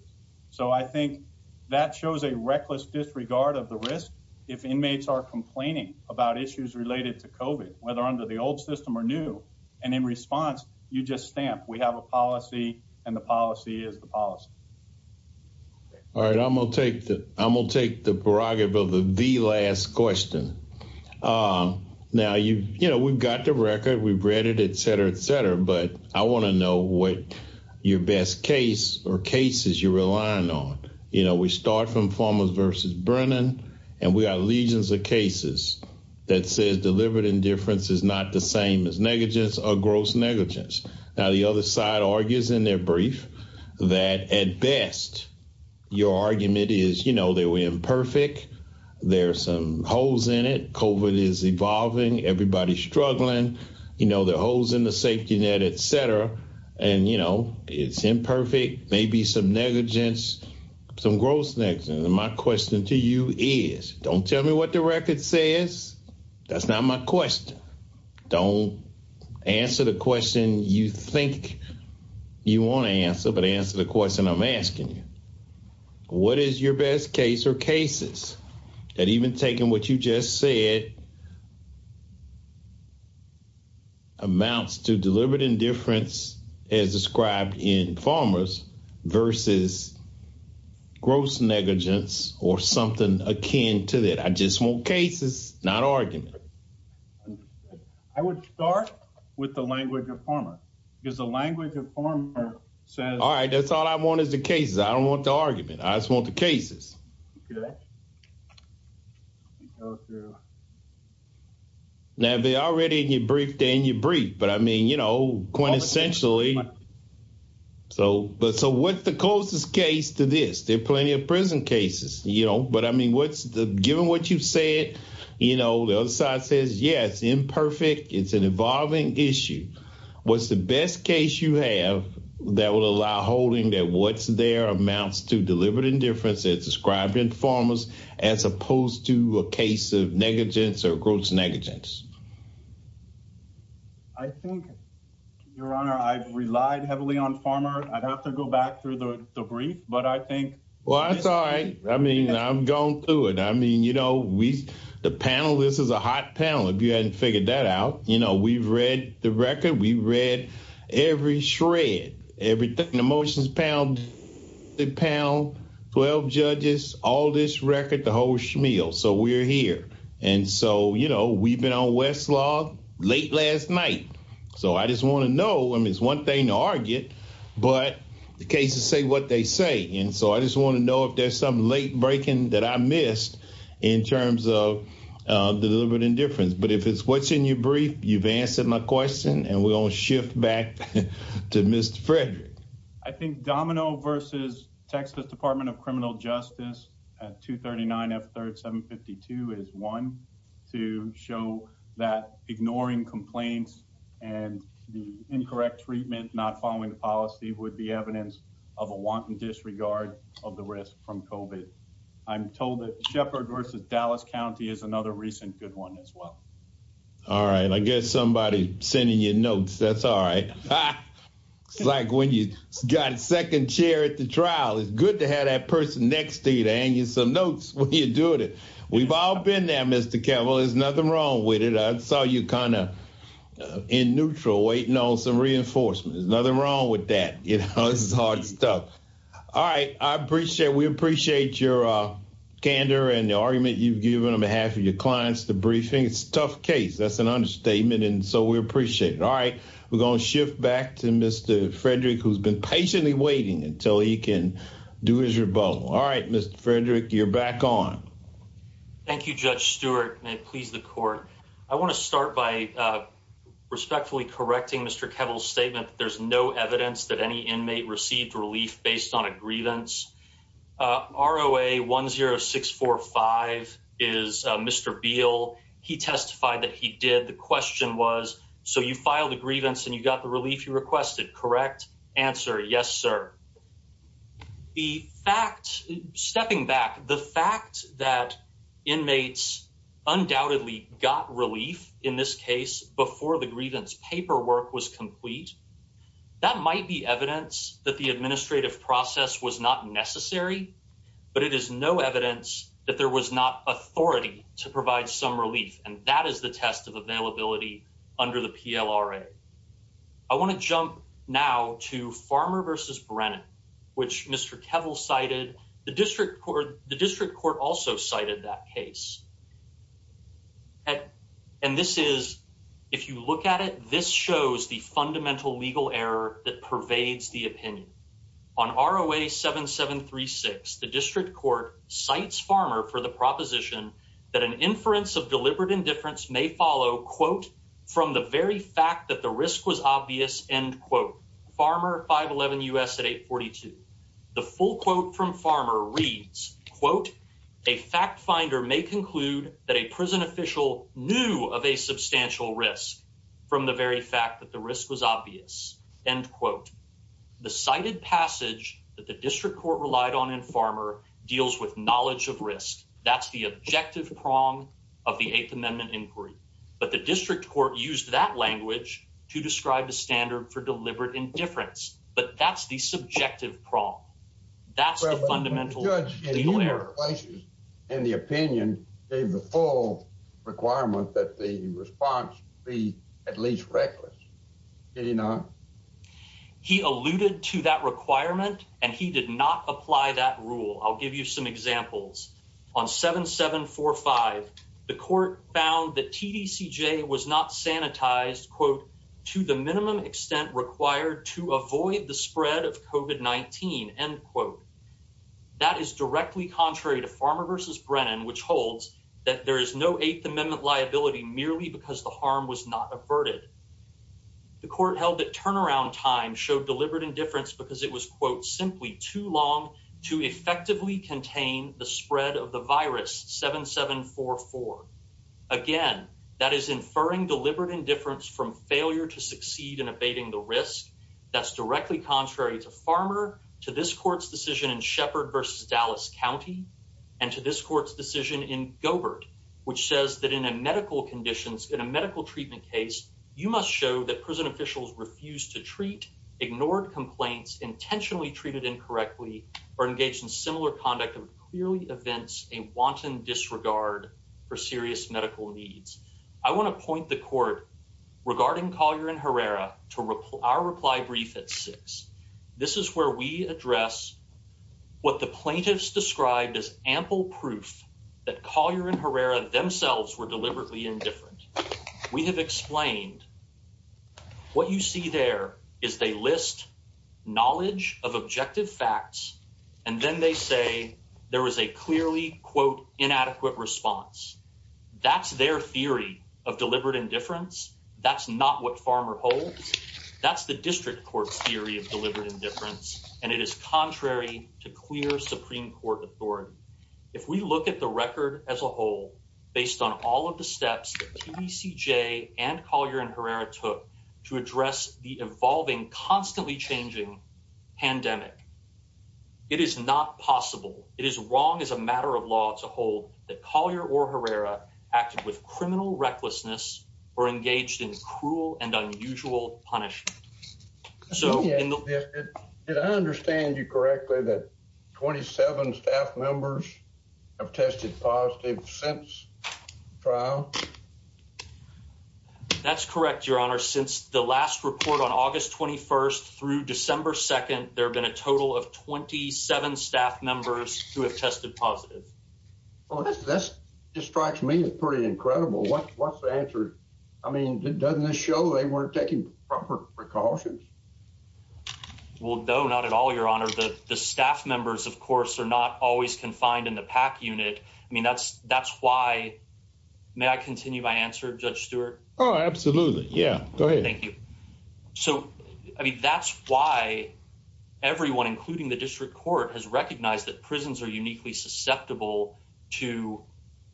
So I think that shows a reckless disregard of the risk if inmates are complaining about issues related to COVID, whether under the old system or new. And in response, you just stamp, we have a policy and the policy is the policy. All right. I'm going to take the prerogative of the last question. Now, you know, we've got the record, we've read it, et cetera, et cetera. But I want to know what your best case or cases you're relying on. You know, we start from Formos versus Brennan and we got legions of cases that says delivered indifference is not the same as negligence or gross negligence. Now, the other side argues in their brief that at best, your argument is, you know, that we're imperfect. There's some holes in it. COVID is evolving. Everybody's struggling. You know, the holes in the safety net, et cetera. And, you know, it's imperfect, maybe some negligence, some gross negligence. My question to you is, don't tell me what the record says. That's not my question. Don't answer the question you think you want to answer, but answer the question I'm asking you. What is your best case or cases that even taking what you just said, amounts to delivered indifference as described in Formos versus gross negligence or something akin to that? I just want cases, not argument. I would start with the language of Formos because the language of Formos says... All right, that's all I want is the cases. I don't want the argument. I just want the cases. Okay. Now, they're already in your brief, they're in your brief, but I mean, you know, quintessentially... But so what's the closest case to this? There are plenty of prison cases, you know, but I mean, given what you said, you know, the other side says, yeah, it's imperfect. It's an evolving issue. What's the best case you have that will allow holding that what's there amounts to delivered indifference as described in Formos as opposed to a case of negligence or gross negligence? I think, Your Honor, I've relied heavily on Formos. I'd have to go back through the brief, but I think... Well, that's all right. I mean, I'm going through it. I mean, you know, the panel, this is a hot panel if you hadn't figured that out. You know, we've read the record. We've read every shred, everything, the motions panel, the panel, 12 judges, all this record, the whole schmeal. So we're here. And so, you know, we've been on Westlaw late last night. So I just want to know, I mean, it's one thing to argue, but the cases say what they say. And so I just want to know if there's some late breaking that I missed in terms of delivered indifference. But if it's what's in your brief, you've answered my question and we're going to shift back to Mr. Frederick. I think Domino versus Texas Department of Criminal Justice at 239 F-3752 is one to show that ignoring complaints and the incorrect treatment, not following the policy would be evidence of a wanton disregard of the risk from COVID. I'm told that Sheppard versus Dallas County is another recent good one as well. All right. I guess somebody's sending you notes. That's all right. It's like when you got a second chair at the trial, it's good to have that person next to you to hand you some notes when you're doing it. We've all been there, Mr. Kevel. There's nothing wrong with it. I saw you kind of in neutral waiting on some reinforcements. There's nothing wrong with that. You know, this is hard stuff. All right. I appreciate, we appreciate your candor and the argument you've given on behalf of your clients. The briefing is a tough case. That's an understatement. And so we appreciate it. All right. We're going to shift back to Mr. Frederick, who's been patiently waiting until he can do his rebuttal. All right, Mr. Frederick, you're back on. Thank you, Judge Stewart. May it please the court. I want to start by respectfully correcting Mr. Kevel's statement. There's no evidence that any inmate received relief based on a grievance. ROA 10645 is Mr. Beal. He testified that he did. The question was, so you filed a grievance and you got the relief you requested, correct? Answer. Yes, sir. The fact, stepping back, the fact that inmates undoubtedly got relief in this case before the grievance paperwork was complete, that might be evidence that the administrative process was not necessary, but it is no evidence that there was not authority to provide some relief. And that is the test of availability under the PLRA. I want to jump now to Farmer versus Brennan, which Mr. Kevel cited. The district court also cited that case. And this is, if you look at it, this shows the fundamental legal error that pervades the opinion. On ROA 7736, the district court cites Farmer for the proposition that an inference of deliberate indifference may follow, quote, from the very fact that the risk was obvious, end quote. Farmer, 511 U.S. at 842. The full quote from Farmer reads, quote, a fact finder may conclude that a prison official knew of a substantial risk from the very fact that the risk was obvious, end quote. The cited passage that the district court relied on in Farmer deals with knowledge of risk. That's the objective prong of the Eighth Amendment inquiry. But the district court used that language to describe the standard for deliberate indifference. But that's the subjective prong. That's the fundamental legal error. In the opinion, gave the full requirement that the response be at least reckless. Did he not? He alluded to that requirement and he did not apply that rule. I'll give you some examples. On 7745, the court found that TDCJ was not sanitized, quote, to the minimum extent required to avoid the spread of COVID-19, end quote. That is directly contrary to Farmer versus Brennan, which holds that there is no Eighth Amendment liability merely because the harm was not averted. The court held that turnaround time showed deliberate indifference because it was, quote, simply too long to effectively contain the spread of the virus, 7744. Again, that is inferring deliberate indifference from failure to succeed in abating the risk. That's directly contrary to Farmer, to this court's decision in Sheppard versus Dallas County, and to this court's decision in Gobert, which says that in a medical conditions, in a medical treatment case, you must show that prison officials refused to treat, ignored complaints, intentionally treated incorrectly, or engaged in similar conduct through clearly events in wanton disregard for serious medical needs. I want to point the court regarding Collier and Herrera to our reply brief at six. This is where we address what the plaintiffs described as ample proof that Collier and Herrera themselves were deliberately indifferent. We have explained what you see there is they list knowledge of objective facts and then they say there was a clearly, quote, inadequate response. That's their theory of deliberate indifference. That's not what Farmer holds. That's the district court theory of deliberate indifference, and it is contrary to clear Supreme Court authority. If we look at the record as a whole, based on all of the steps that CBCJ and Collier and Herrera took to address the evolving, constantly changing pandemic, it is not possible. It is wrong as a matter of law to hold that Collier or Herrera acted with criminal recklessness or engaged in cruel and unusual punishment. Did I understand you correctly that 27 staff members have tested positive since trial? That's correct, Your Honor. Since the last report on August 21st through December 2nd, there have been a total of 27 staff members who have tested positive. Well, that just strikes me as pretty incredible. What's the answer? I mean, doesn't this show they weren't taking proper precautions? Well, no, not at all, Your Honor. The staff members, of course, are not always confined in the PAC unit. I mean, that's why. May I continue my answer, Judge Stewart? Oh, absolutely. Yeah, go ahead. Thank you. So, I mean, that's why everyone, including the district court, has recognized that prisons are uniquely susceptible to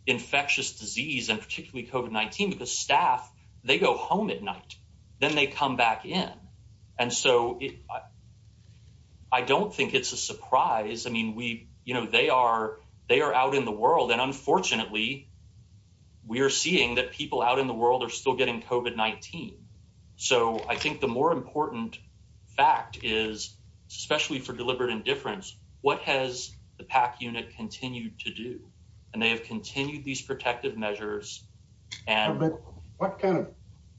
infectious disease and particularly COVID-19. The staff, they go home at night, then they come back in. And so I don't think it's a surprise. I mean, they are out in the world and unfortunately, we are seeing that people out in the world are still getting COVID-19. So I think the more important fact is, especially for deliberate indifference, what has the PAC unit continued to do? And they have continued these protective measures. What kind of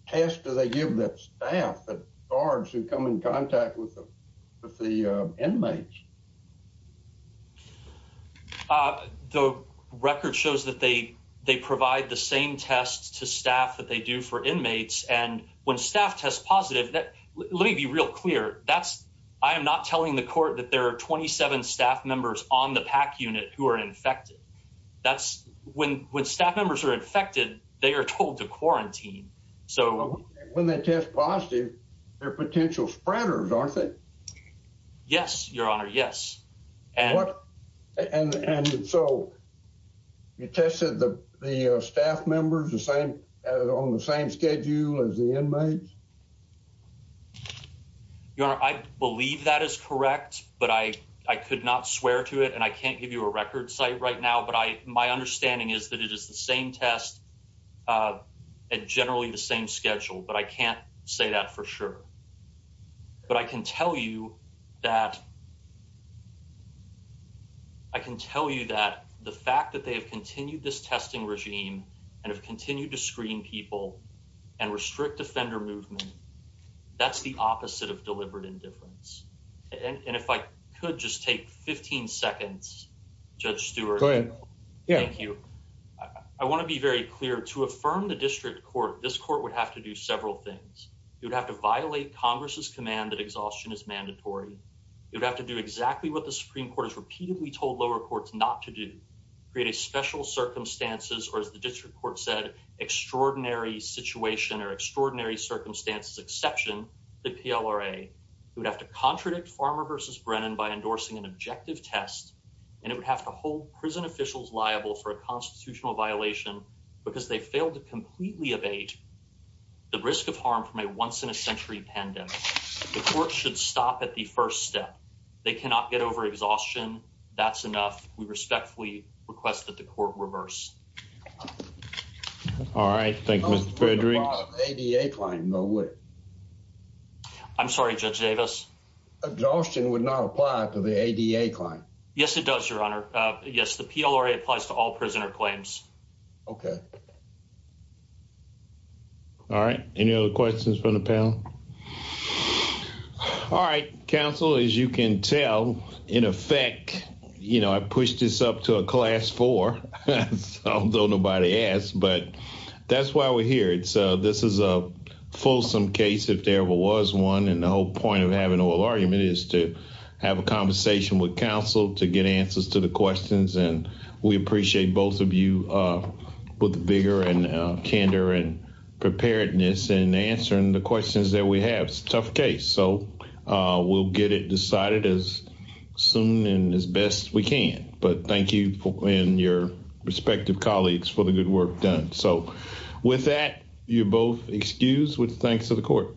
test do they give the staff that guards who come in contact with the inmates? The record shows that they provide the same test to staff that they do for inmates. And when staff test positive, let me be real clear, I am not telling the court that there are 27 staff members on the PAC unit who are infected. That's when staff members are infected, they are told to quarantine. When they test positive, they're potential spreaders, aren't they? Yes, your honor, yes. And so you tested the staff members on the same schedule as the inmates? Your honor, I believe that is correct, but I could not swear to it and I can't give you a record site right now, but my understanding is that it is the same test at generally the same schedule, but I can't say that for sure. But I can tell you that, I can tell you that the fact that they've continued this testing regime and have continued to screen people and restrict offender movement that's the opposite of deliberate indifference. And if I could just take 15 seconds, Judge Stewart, thank you. I want to be very clear to affirm the district court, this court would have to do several things. You'd have to violate Congress's command that exhaustion is mandatory. You'd have to do exactly what the Supreme Court has repeatedly told lower courts not to do, create a special circumstances or as the district court said, extraordinary situation or extraordinary circumstances, exception to PLRA. You would have to contradict Farmer versus Brennan by endorsing an objective test and it would have to hold prison officials liable for a constitutional violation because they failed to completely evade the risk of harm from a once in a century pandemic. The court should stop at the first step. They cannot get over exhaustion. That's enough. We respectfully request that the court reverse. All right, thank you, Mr. Frederick. I'm sorry, Judge Davis. Exhaustion would not apply to the ADA claim. Yes, it does, Your Honor. Yes, the PLRA applies to all prisoner claims. OK. All right. Any other questions from the panel? All right, counsel, as you can tell, in effect, you know, I pushed this up to a class four. Although nobody asked, but that's why we're here. It's this is a fulsome case, if there ever was one. And the whole point of having a little argument is to have a conversation with counsel to get answers to the questions. And we appreciate both of you with the vigor and candor and preparedness and answering the questions that we have. It's a tough case, so we'll get it decided as soon and as best we can. But thank you and your respective colleagues for the good work done. So with that, you're both excused. We thank you to the court.